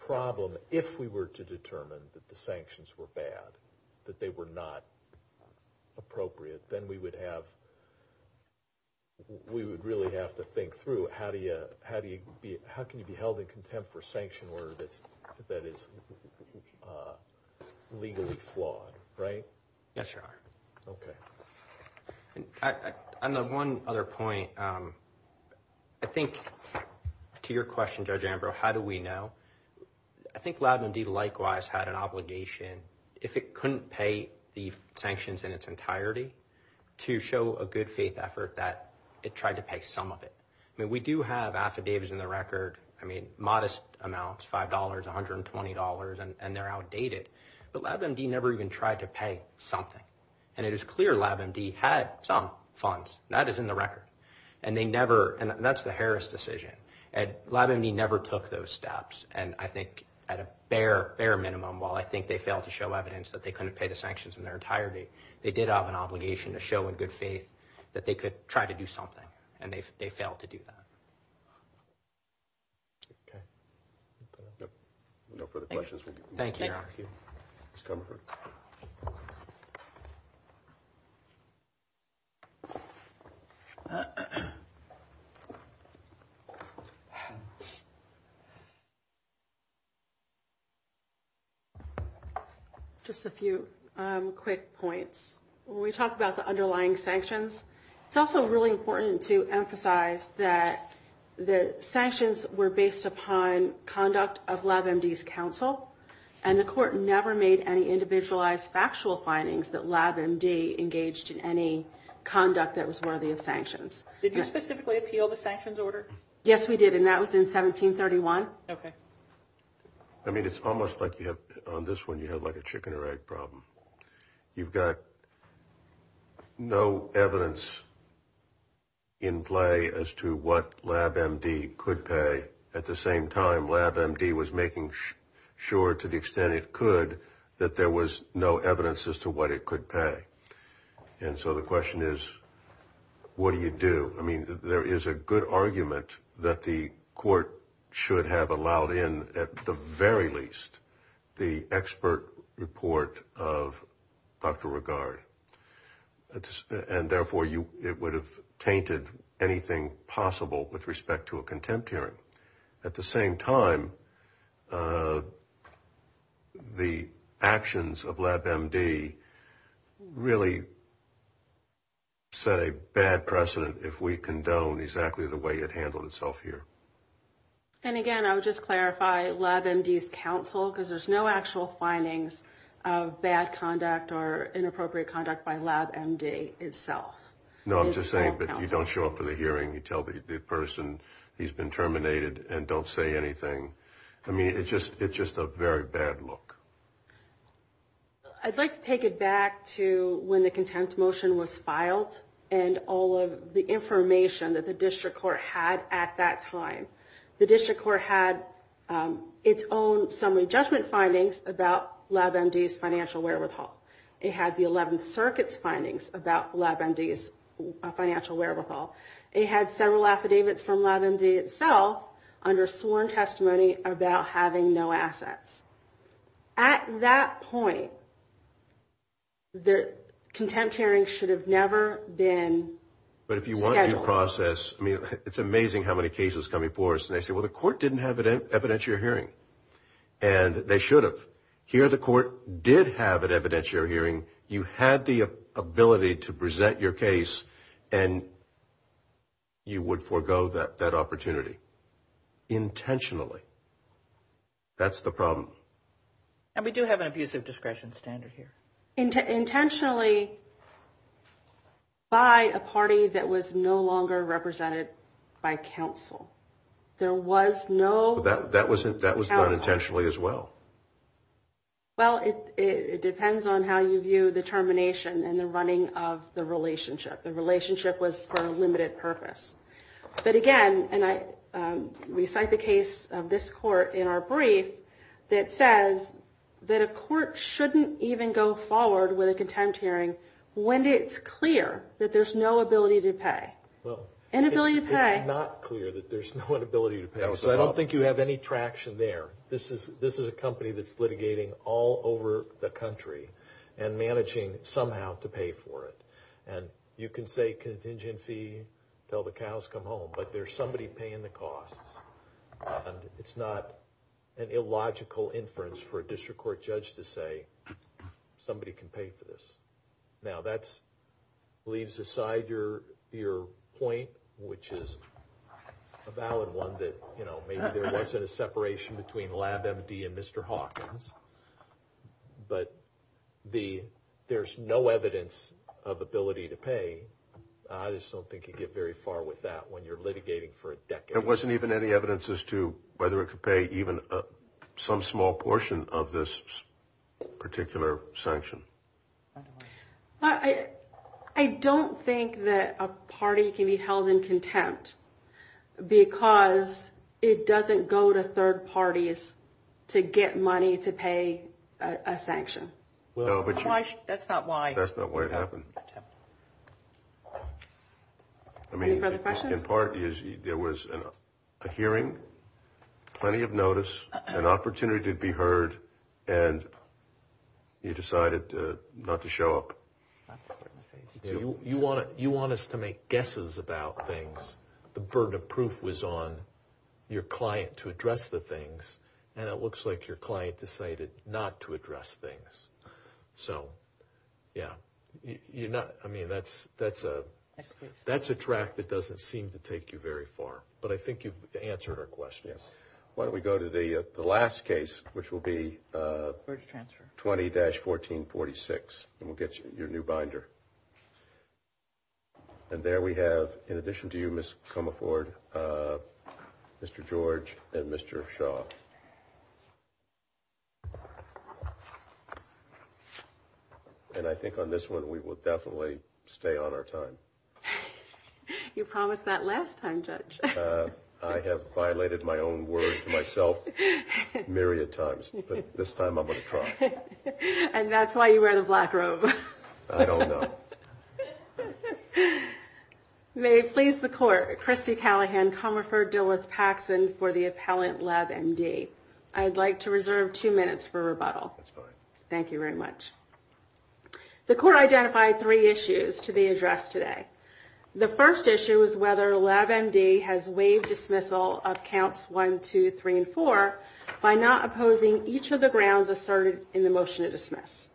problem. If we were to determine that the sanctions were bad, that they were not appropriate, then we would really have to think through how can you be held in contempt for a sanction order that is legally flawed, right? Yes, Your Honor. Okay. On the one other point, I think to your question, Judge Ambrose, how do we know? I think LabMD likewise had an obligation, if it couldn't pay the sanctions in its entirety, to show a good faith effort that it tried to pay some of it. I mean, we do have affidavits in the record, I mean, modest amounts, $5, $120, and they're outdated. But LabMD never even tried to pay something. And it is clear LabMD had some funds. That is in the record. And that's the Harris decision. LabMD never took those steps. And I think at a bare minimum, while I think they failed to show evidence that they couldn't pay the sanctions in their entirety, they did have an obligation to show a good faith that they could try to do something, and they failed to do that. Okay. No further questions? Thank you. Just a few quick points. When we talk about the underlying sanctions, it's also really important to emphasize that the sanctions were based upon conduct of LabMD's counsel, and the court never made any individualized factual findings that LabMD engaged in any conduct that was worthy of sanctions. Did you specifically appeal the sanctions order? Yes, we did, and that was in 1731. Okay. I mean, it's almost like on this one you have like a chicken or egg problem. You've got no evidence in play as to what LabMD could pay. At the same time, LabMD was making sure, to the extent it could, that there was no evidence as to what it could pay. And so the question is, what do you do? I mean, there is a good argument that the court should have allowed in, at the very least, the expert report of Dr. Regard, and therefore it would have tainted anything possible with respect to a contempt hearing. At the same time, the actions of LabMD really set a bad precedent if we condone exactly the way it handled itself here. And again, I would just clarify LabMD's counsel, because there's no actual findings of bad conduct or inappropriate conduct by LabMD itself. No, I'm just saying that you don't show up for the hearing. You tell the person he's been terminated and don't say anything. I mean, it's just a very bad look. I'd like to take it back to when the contempt motion was filed and all of the information that the district court had at that time. The district court had its own summary judgment findings about LabMD's financial wherewithal. It had the 11th Circuit's findings about LabMD's financial wherewithal. It had several affidavits from LabMD itself under sworn testimony about having no assets. At that point, the contempt hearing should have never been scheduled. But if you want to process, I mean, it's amazing how many cases come before us and they say, well, the court didn't have an evidentiary hearing. And they should have. Here the court did have an evidentiary hearing. You had the ability to present your case and you would forego that opportunity. Intentionally. That's the problem. And we do have an abusive discretion standard here. Intentionally by a party that was no longer represented by counsel. There was no counsel. That was done intentionally as well. Well, it depends on how you view the termination and the running of the relationship. The relationship was for a limited purpose. But again, and we cite the case of this court in our brief that says that a court shouldn't even go forward with a contempt hearing when it's clear that there's no ability to pay. Inability to pay. It's not clear that there's no ability to pay. So I don't think you have any traction there. This is a company that's litigating all over the country and managing somehow to pay for it. And you can say contingency until the cows come home, but there's somebody paying the costs. It's not an illogical inference for a district court judge to say somebody can pay for this. Now that leaves aside your point, which is a valid one that maybe there wasn't a separation between LabMD and Mr. Hawkins. But there's no evidence of ability to pay. I just don't think you get very far with that when you're litigating for a decade. There wasn't even any evidence as to whether it could pay even some small portion of this particular sanction. I don't think that a party can be held in contempt because it doesn't go to third parties to get money to pay a sanction. That's not why. That's not why it happened. I mean, in part, there was a hearing, plenty of notice, an opportunity to be heard, and you decided not to show up. You want us to make guesses about things. The burden of proof was on your client to address the things, and it looks like your client decided not to address things. So, yeah. I mean, that's a track that doesn't seem to take you very far. But I think you've answered her question. Why don't we go to the last case, which will be 20-1446, and we'll get your new binder. And there we have, in addition to you, Ms. Comerford, Mr. George, and Mr. Shaw. And I think on this one we will definitely stay on our time. You promised that last time, Judge. I have violated my own word myself a myriad of times, but this time I'm going to try. And that's why you wear the black robe. I don't know. May it please the Court, Kristi Callahan, Comerford, Dulles-Paxson, for the appellant, Lab MD. I'd like to reserve two minutes for rebuttal. Thank you very much. The Court identified three issues to be addressed today. The first issue is whether Lab MD has waived dismissal of Counts 1, 2, 3, and 4 by not opposing each of the grounds asserted in the motion to dismiss.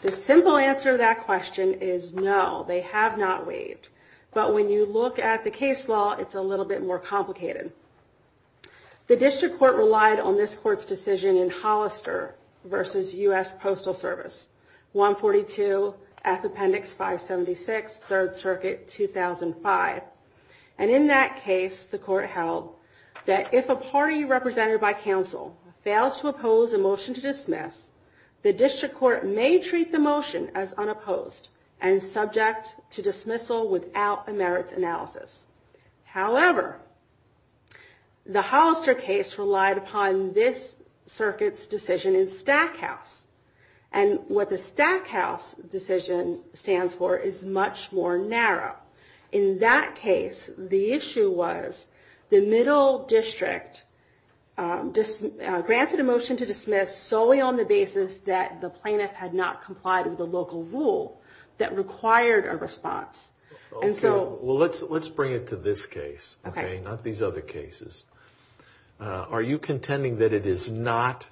The simple answer to that question is no, they have not waived. But when you look at the case law, it's a little bit more complicated. The District Court relied on this Court's decision in Hollister versus U.S. Postal Service, 142S Appendix 576, 3rd Circuit, 2005. And in that case, the Court held that if a party represented by the District Court may treat the motion as unopposed and subject to dismissal without a merits analysis. However, the Hollister case relied upon this Circuit's decision in Stackhouse. And what the Stackhouse decision stands for is much more narrow. In that case, the issue was the Middle District granted a motion to dismiss solely on the basis that the plaintiff had not complied with a local rule that required a response. And so... Well, let's bring it to this case, okay, not these other cases. Are you contending that it is not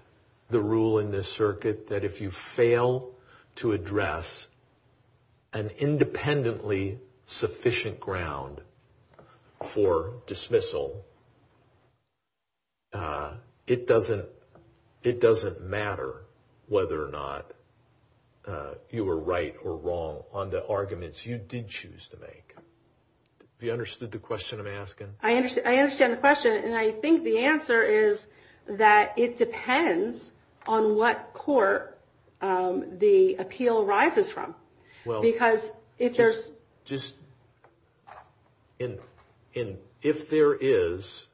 the rule in this Circuit that if you fail to address an independently sufficient ground for it doesn't matter whether or not you were right or wrong on the arguments you did choose to make? Have you understood the question I'm asking? I understand the question. And I think the answer is that it depends on what court the appeal arises from. Because if there's... And if there is,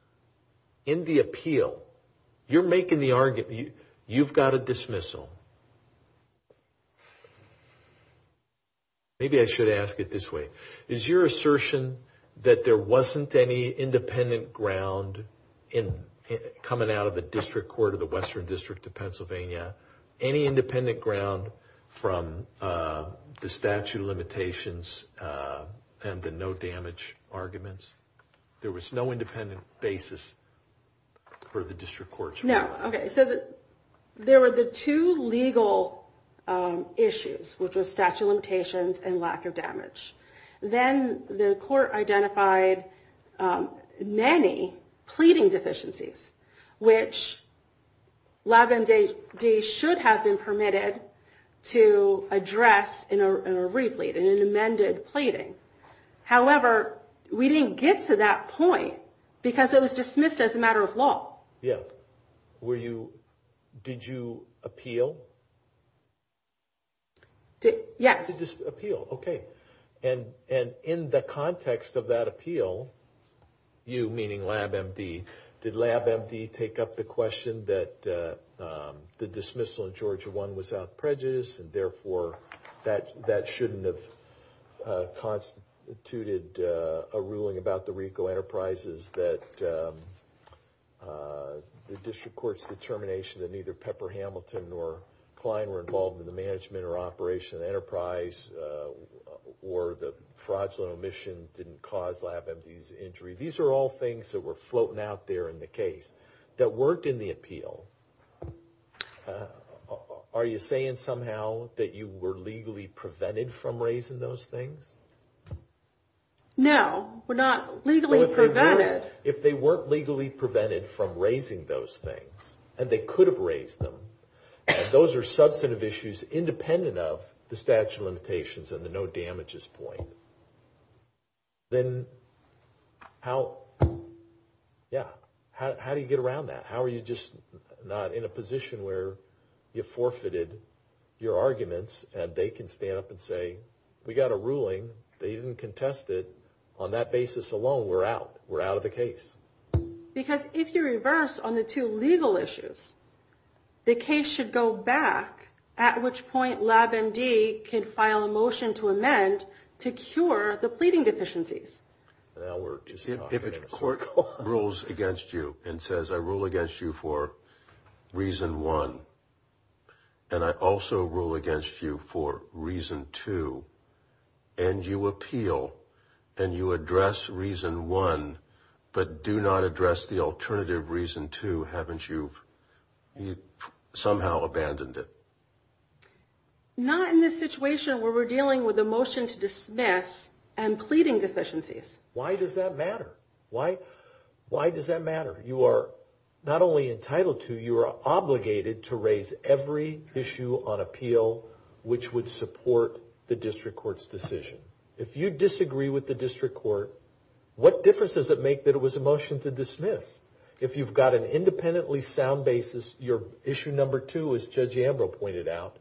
in the appeal, you're making the argument, you've got a dismissal. Maybe I should ask it this way. Is your assertion that there wasn't any independent ground coming out of the District Court of the Western District of Pennsylvania, any independent ground from the statute of limitations and the no damage arguments? There was no independent basis for the District Court? No. Okay. So there were the two legal issues, which was statute of limitations and lack of damage. Then the court identified many pleading deficiencies, which 11 days should have been permitted to address in a dismissal. But we didn't get to that point because it was dismissed as a matter of law. Yeah. Did you appeal? Yes. Appeal. Okay. And in the context of that appeal, you, meaning LabMD, did LabMD take up the question that the dismissal in Georgia 1 was a matter of law. And you said that the district court's determination that neither Pepper Hamilton nor Klein were involved in the management or operation of the enterprise or the fraudulent omission didn't cause LabMD's injury. These are all things that were floating out there in the case that Pepper Hamilton nor Klein were involved in the management or operation of the enterprise or the fraudulent omission didn't cause Okay. So you're saying somehow that you were legally prevented from raising those things? No. We're not legally prevented. If they weren't legally prevented from raising those things and they could have raised them, those are substantive issues independent of the statute of limitations and the no damages point. Then how, yeah, how do you get around that? How are you just not in a position where you forfeited your arguments and they can stand up and say, we got a ruling. They didn't contest it on that basis alone. We're out. We're out of the case. Because if you reverse on the two legal issues, the case should go back at which point LabMD can file a motion to amend to cure the pleading deficiencies. If it's a court rules against you and says, I rule against you for reason one, and I also rule against you for reason two, and you appeal and you address reason one, but do not address the alternative reason two. Haven't you somehow abandoned it? Not in this situation where we're dealing with a motion to dismiss and a motion to appease. Why does that matter? Why does that matter? You are not only entitled to, you are obligated to raise every issue on appeal which would support the district court's decision. If you disagree with the district court, what difference does it make that it was a motion to dismiss? If you've got an independently sound basis, your issue number two, as Judge Ambrose pointed out,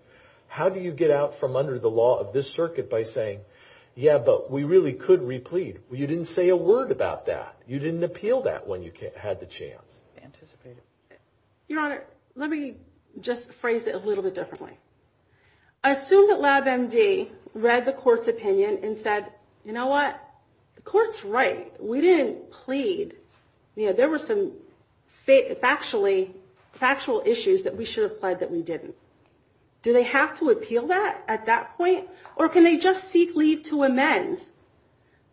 how do you get out from under the law of this circuit by saying, yeah, but we really could re-plead. You didn't say a word about that. You didn't appeal that when you had the chance. Your Honor, let me just phrase it a little bit differently. Assume that Lab MD read the court's opinion and said, you know what? The court's right. We didn't plead. There were some factual issues that we should have pled that we didn't. Do they have to appeal that at that point? Or can they just seek leave to amend?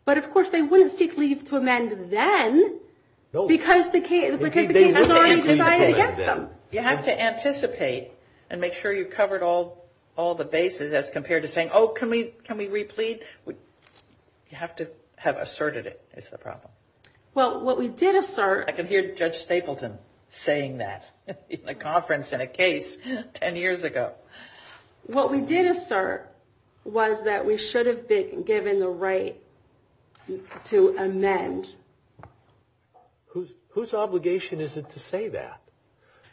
But, of course, they wouldn't seek leave to amend then because the case was already decided against them. You have to anticipate and make sure you've covered all the bases as compared to saying, oh, can we re-plead? You have to have asserted it is the problem. Well, what we did assert – I can hear Judge Stapleton saying that at a conference in a case 10 years ago. What we did assert was that we should have been given the right to amend. Whose obligation is it to say that?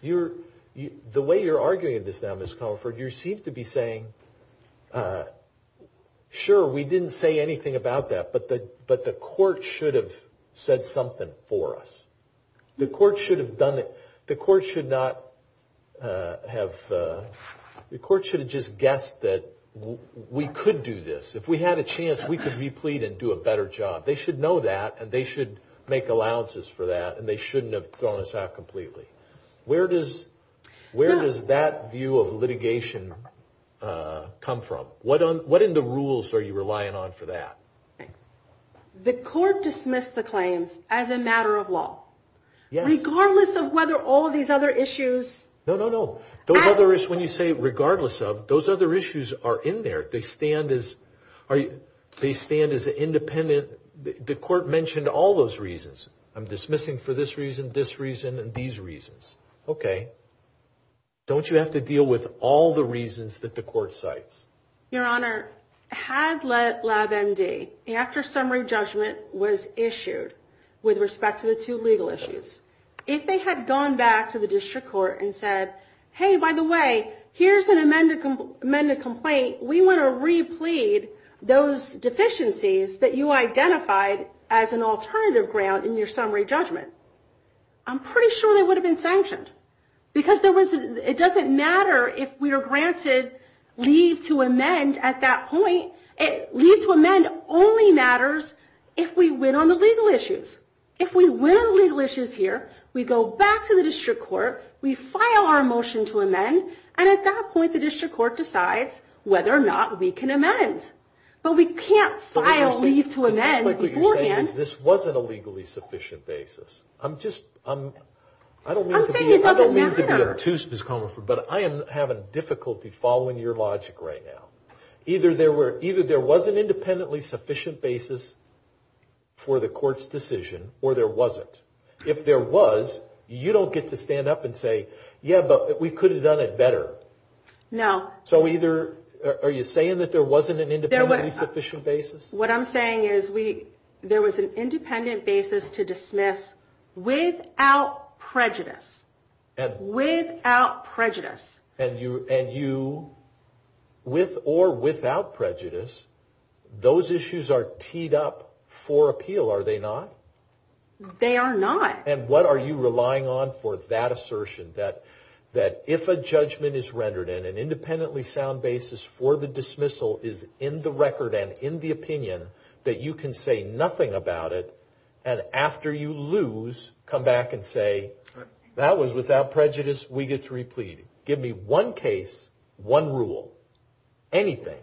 The way you're arguing this now, Ms. Comerford, you seem to be saying, sure, we didn't say anything about that, but the court should have said something for us. The court should have just guessed that we could do this. If we had a chance, we could re-plead and do a better job. They should know that, and they should make allowances for that, and they shouldn't have thrown us out completely. Where does that view of litigation come from? What in the rules are you relying on for that? The court dismissed the claims as a matter of law. Regardless of whether all of these other issues – No, no, no. When you say regardless of, those other issues are in there. They stand as independent – the court mentioned all those reasons. I'm dismissing for this reason, this reason, and these reasons. Okay. Don't you have to deal with all the reasons that the court cites? Your Honor, has let LabMD, after summary judgment was issued, with respect to the two legal issues, if they had gone back to the district court and said, hey, by the way, here's an amended complaint. We want to re-plead those deficiencies that you identified as an alternative grant in your summary judgment. I'm pretty sure they would have been sanctioned because it doesn't matter if we are granted leave to amend at that point. Leave to amend only matters if we win on the legal issues. If we win on the legal issues here, we go back to the district court, we file our motion to amend, and at that point the district court decides whether or not we can amend. But we can't file leave to amend beforehand. This wasn't a legally sufficient basis. I'm just – I don't mean to be obtuse, Ms. Comerford, but I am having difficulty following your logic right now. Either there was an independently sufficient basis for the court's decision or there wasn't. If there was, you don't get to stand up and say, yeah, but we could have done it better. No. So either – are you saying that there wasn't an independently sufficient basis? What I'm saying is there was an independent basis to dismiss without prejudice. Without prejudice. And you – with or without prejudice, those issues are teed up for appeal, are they not? They are not. And what are you relying on for that assertion that if a judgment is rendered and an independently sound basis for the dismissal is in the record and then in the opinion that you can say nothing about it and after you lose, come back and say, that was without prejudice, we get to replease. Give me one case, one rule, anything.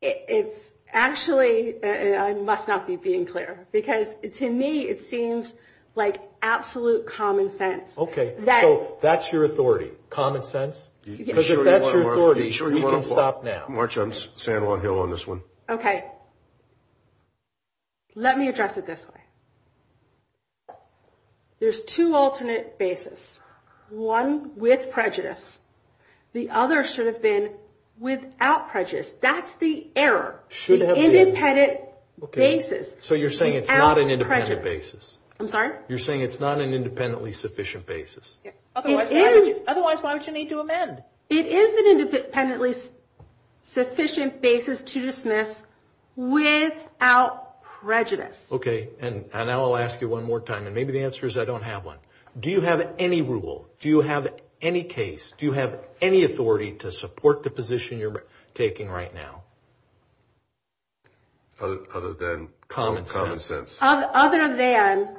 It's actually – I must not be being clear because to me it seems like absolute common sense. Okay, so that's your authority, common sense? Because if that's your authority, you can stop now. March on San Juan Hill on this one. Okay. Let me address it this way. There's two alternate basis. One with prejudice. The other should have been without prejudice. That's the error. The independent basis. So you're saying it's not an independent basis. I'm sorry? You're saying it's not an independently sufficient basis. Otherwise, why would you need to amend? It is an independently sufficient basis to dismiss without prejudice. Okay, and now I'll ask you one more time, and maybe the answer is I don't have one. Do you have any rule? Do you have any case? Do you have any authority to support the position you're taking right now? Other than common sense. Other than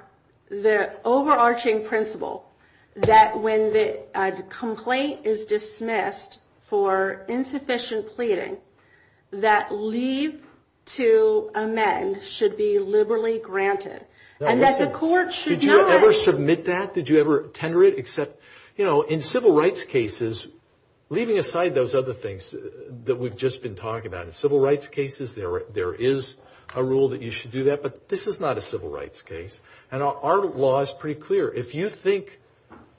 the overarching principle that when the complaint is dismissed for insufficient pleading, that leave to amend should be liberally granted. Did you ever submit that? Did you ever tender it? You know, in civil rights cases, leaving aside those other things that we've just been talking about, in civil rights cases there is a rule that you should do that. But this is not a civil rights case. And our law is pretty clear. If you think,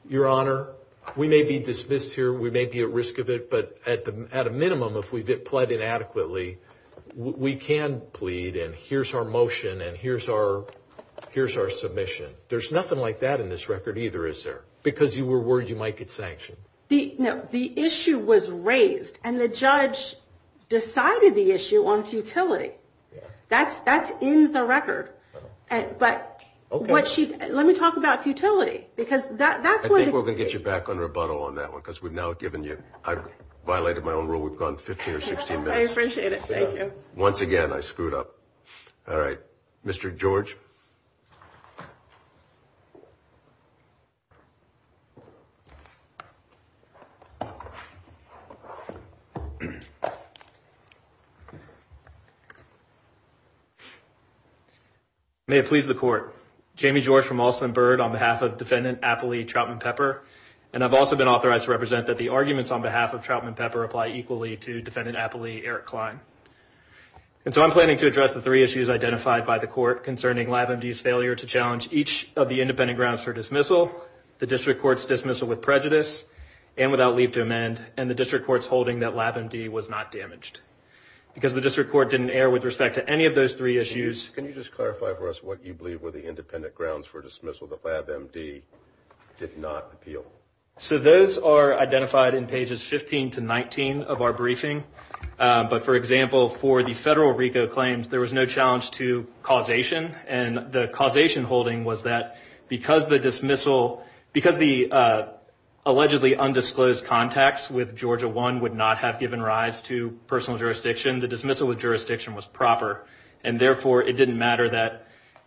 Your Honor, we may be dismissed here, we may be at risk of it, but at a minimum, if we get pled inadequately, we can plead and here's our motion and here's our submission. There's nothing like that in this record either, is there? Because you were worried you might get sanctioned. No, the issue was raised, and the judge decided the issue on futility. That's in the record. But let me talk about futility. I think we're going to get you back on rebuttal on that one because we've now given you I violated my own rule, we've gone 15 or 16 minutes. I appreciate it, thank you. Once again, I screwed up. All right, Mr. George. May it please the court. Jamie George from Alston Byrd on behalf of Defendant Appley Trautman-Pepper, and I've also been authorized to represent that the arguments on behalf of Trautman-Pepper apply equally to Defendant Appley Eric Klein. And so I'm planning to address the three issues identified by the court concerning LabMD's failure to challenge each of the independent grounds for dismissal, the District Court's dismissal with prejudice and without leave to amend, and the District Court's holding that LabMD was not damaged. Because the District Court didn't err with respect to any of those three issues. Can you just clarify for us what you believe were the independent grounds for dismissal that LabMD did not appeal? So those are identified in pages 15 to 19 of our briefing. But, for example, for the federal RICO claims, there was no challenge to causation. And the causation holding was that because the allegedly undisclosed contacts with jurisdiction, the dismissal with jurisdiction was proper. And, therefore, it didn't matter that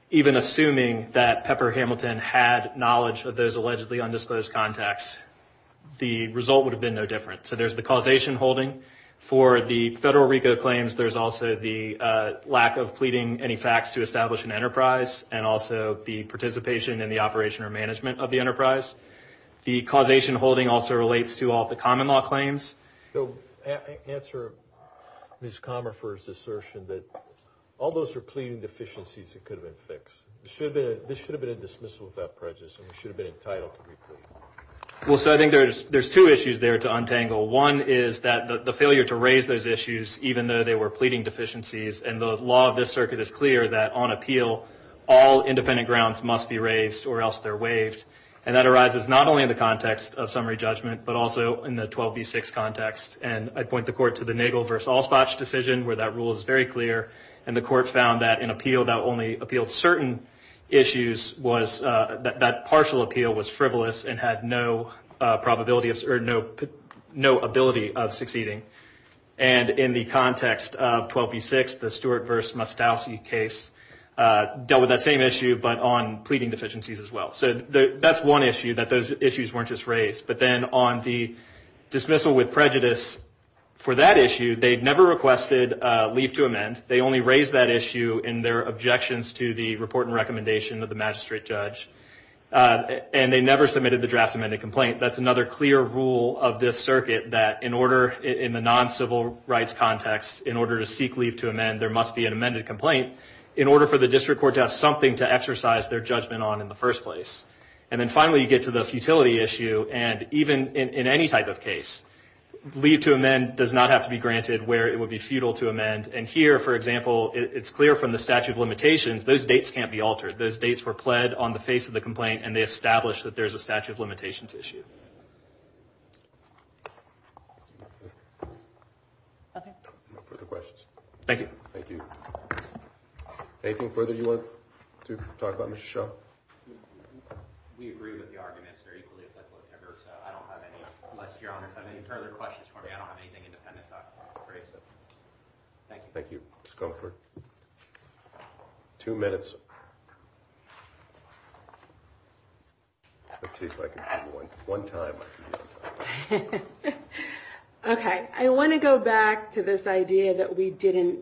even assuming that Pepper Hamilton had knowledge of those allegedly undisclosed contacts, the result would have been no different. So there's the causation holding. For the federal RICO claims, there's also the lack of pleading any facts to establish an enterprise and also the participation in the operation or management of the enterprise. The causation holding also relates to all the common law claims. So answer Ms. Comerford's assertion that all those are pleading deficiencies that could have been fixed. This should have been a dismissal without prejudice. It should have been entitled to be pleaded. Well, so I think there's two issues there to untangle. One is that the failure to raise those issues, even though they were pleading deficiencies, and the law of this circuit is clear that on appeal, all independent grounds must be raised or else they're waived. And that arises not only in the context of summary judgment, but also in the 12B6 context. And I point the court to the Nagel v. Allspach decision where that rule is very clear. And the court found that an appeal that only appealed certain issues was that partial appeal was frivolous and had no probability or no ability of succeeding. And in the context of 12B6, the Stewart v. Mostowsky case dealt with that same issue, but on pleading deficiencies as well. So that's one issue, that those issues weren't just raised. But then on the dismissal with prejudice, for that issue, they'd never requested leave to amend. They only raised that issue in their objections to the report and recommendation of the magistrate judge. And they never submitted the draft amended complaint. That's another clear rule of this circuit, that in the non-civil rights context, in order to seek leave to amend, there must be an amended complaint, in order for the district court to have something to exercise their judgment on in the first place. And then finally, you get to the futility issue. And even in any type of case, leave to amend does not have to be granted where it would be futile to amend. And here, for example, it's clear from the statute of limitations, those dates can't be altered. Those dates were pled on the face of the complaint, and they established that there's a statute of limitations issue. Okay. No further questions. Thank you. Thank you. Anything further you want to talk about, Mr. Shaw? We agree with the arguments. I don't have any further questions for you. I don't have anything independent to talk about. Thank you. Thank you. Two minutes. Okay. I want to go back to this idea that we didn't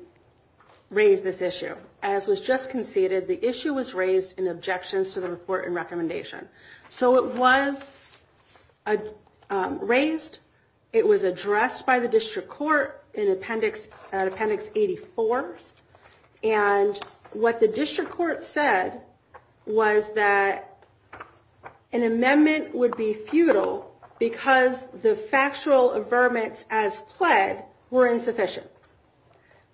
raise this issue. As was just conceded, the issue was raised in objections to the report and recommendation. So it was raised. It was addressed by the district court in Appendix 84. And what the district court said was that an amendment would be futile because the factual amendments as pled were insufficient.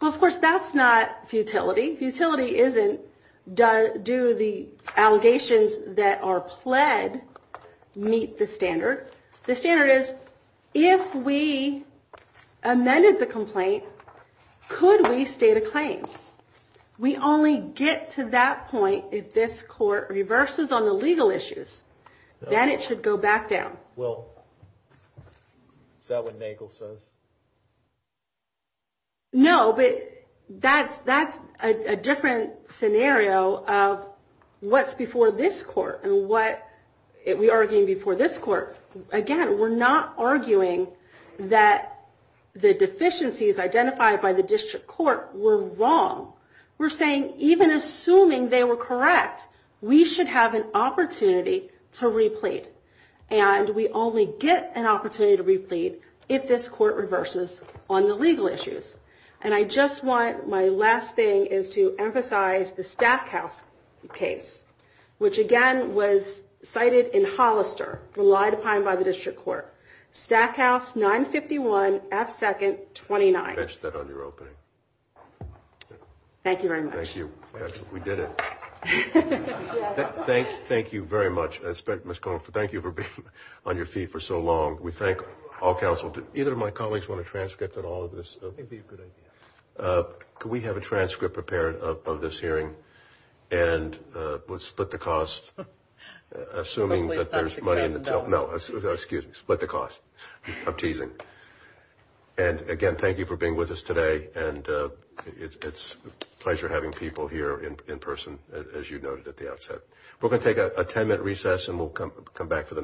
Of course, that's not futility. Futility isn't do the allegations that are pled meet the standard. The standard is if we amended the complaint, could we state a claim? We only get to that point if this court reverses on the legal issues. Then it should go back down. Is that what Nagle says? No, but that's a different scenario of what's before this court and what we are arguing before this court. Again, we're not arguing that the deficiencies identified by the district court were wrong. We're saying even assuming they were correct, we should have an opportunity to replete. And we only get an opportunity to replete if this court reverses on the legal issues. And I just want my last thing is to emphasize the Stackhouse case, which again was cited in Hollister, relied upon by the district court. Stackhouse 951F2-29. Thank you very much. Thank you. We did it. Thank you very much. Thank you for being on your feet for so long. We thank all counsel. Either of my colleagues want a transcript of all of this? Could we have a transcript prepared of this hearing? And we'll split the cost. Assuming that there's money in the account. No, excuse me. Split the cost. I'm teasing. And again, thank you for being with us today. And it's a pleasure having people here in person, as you noted at the outset. We're going to take a 10-minute recess and we'll come back for the next one.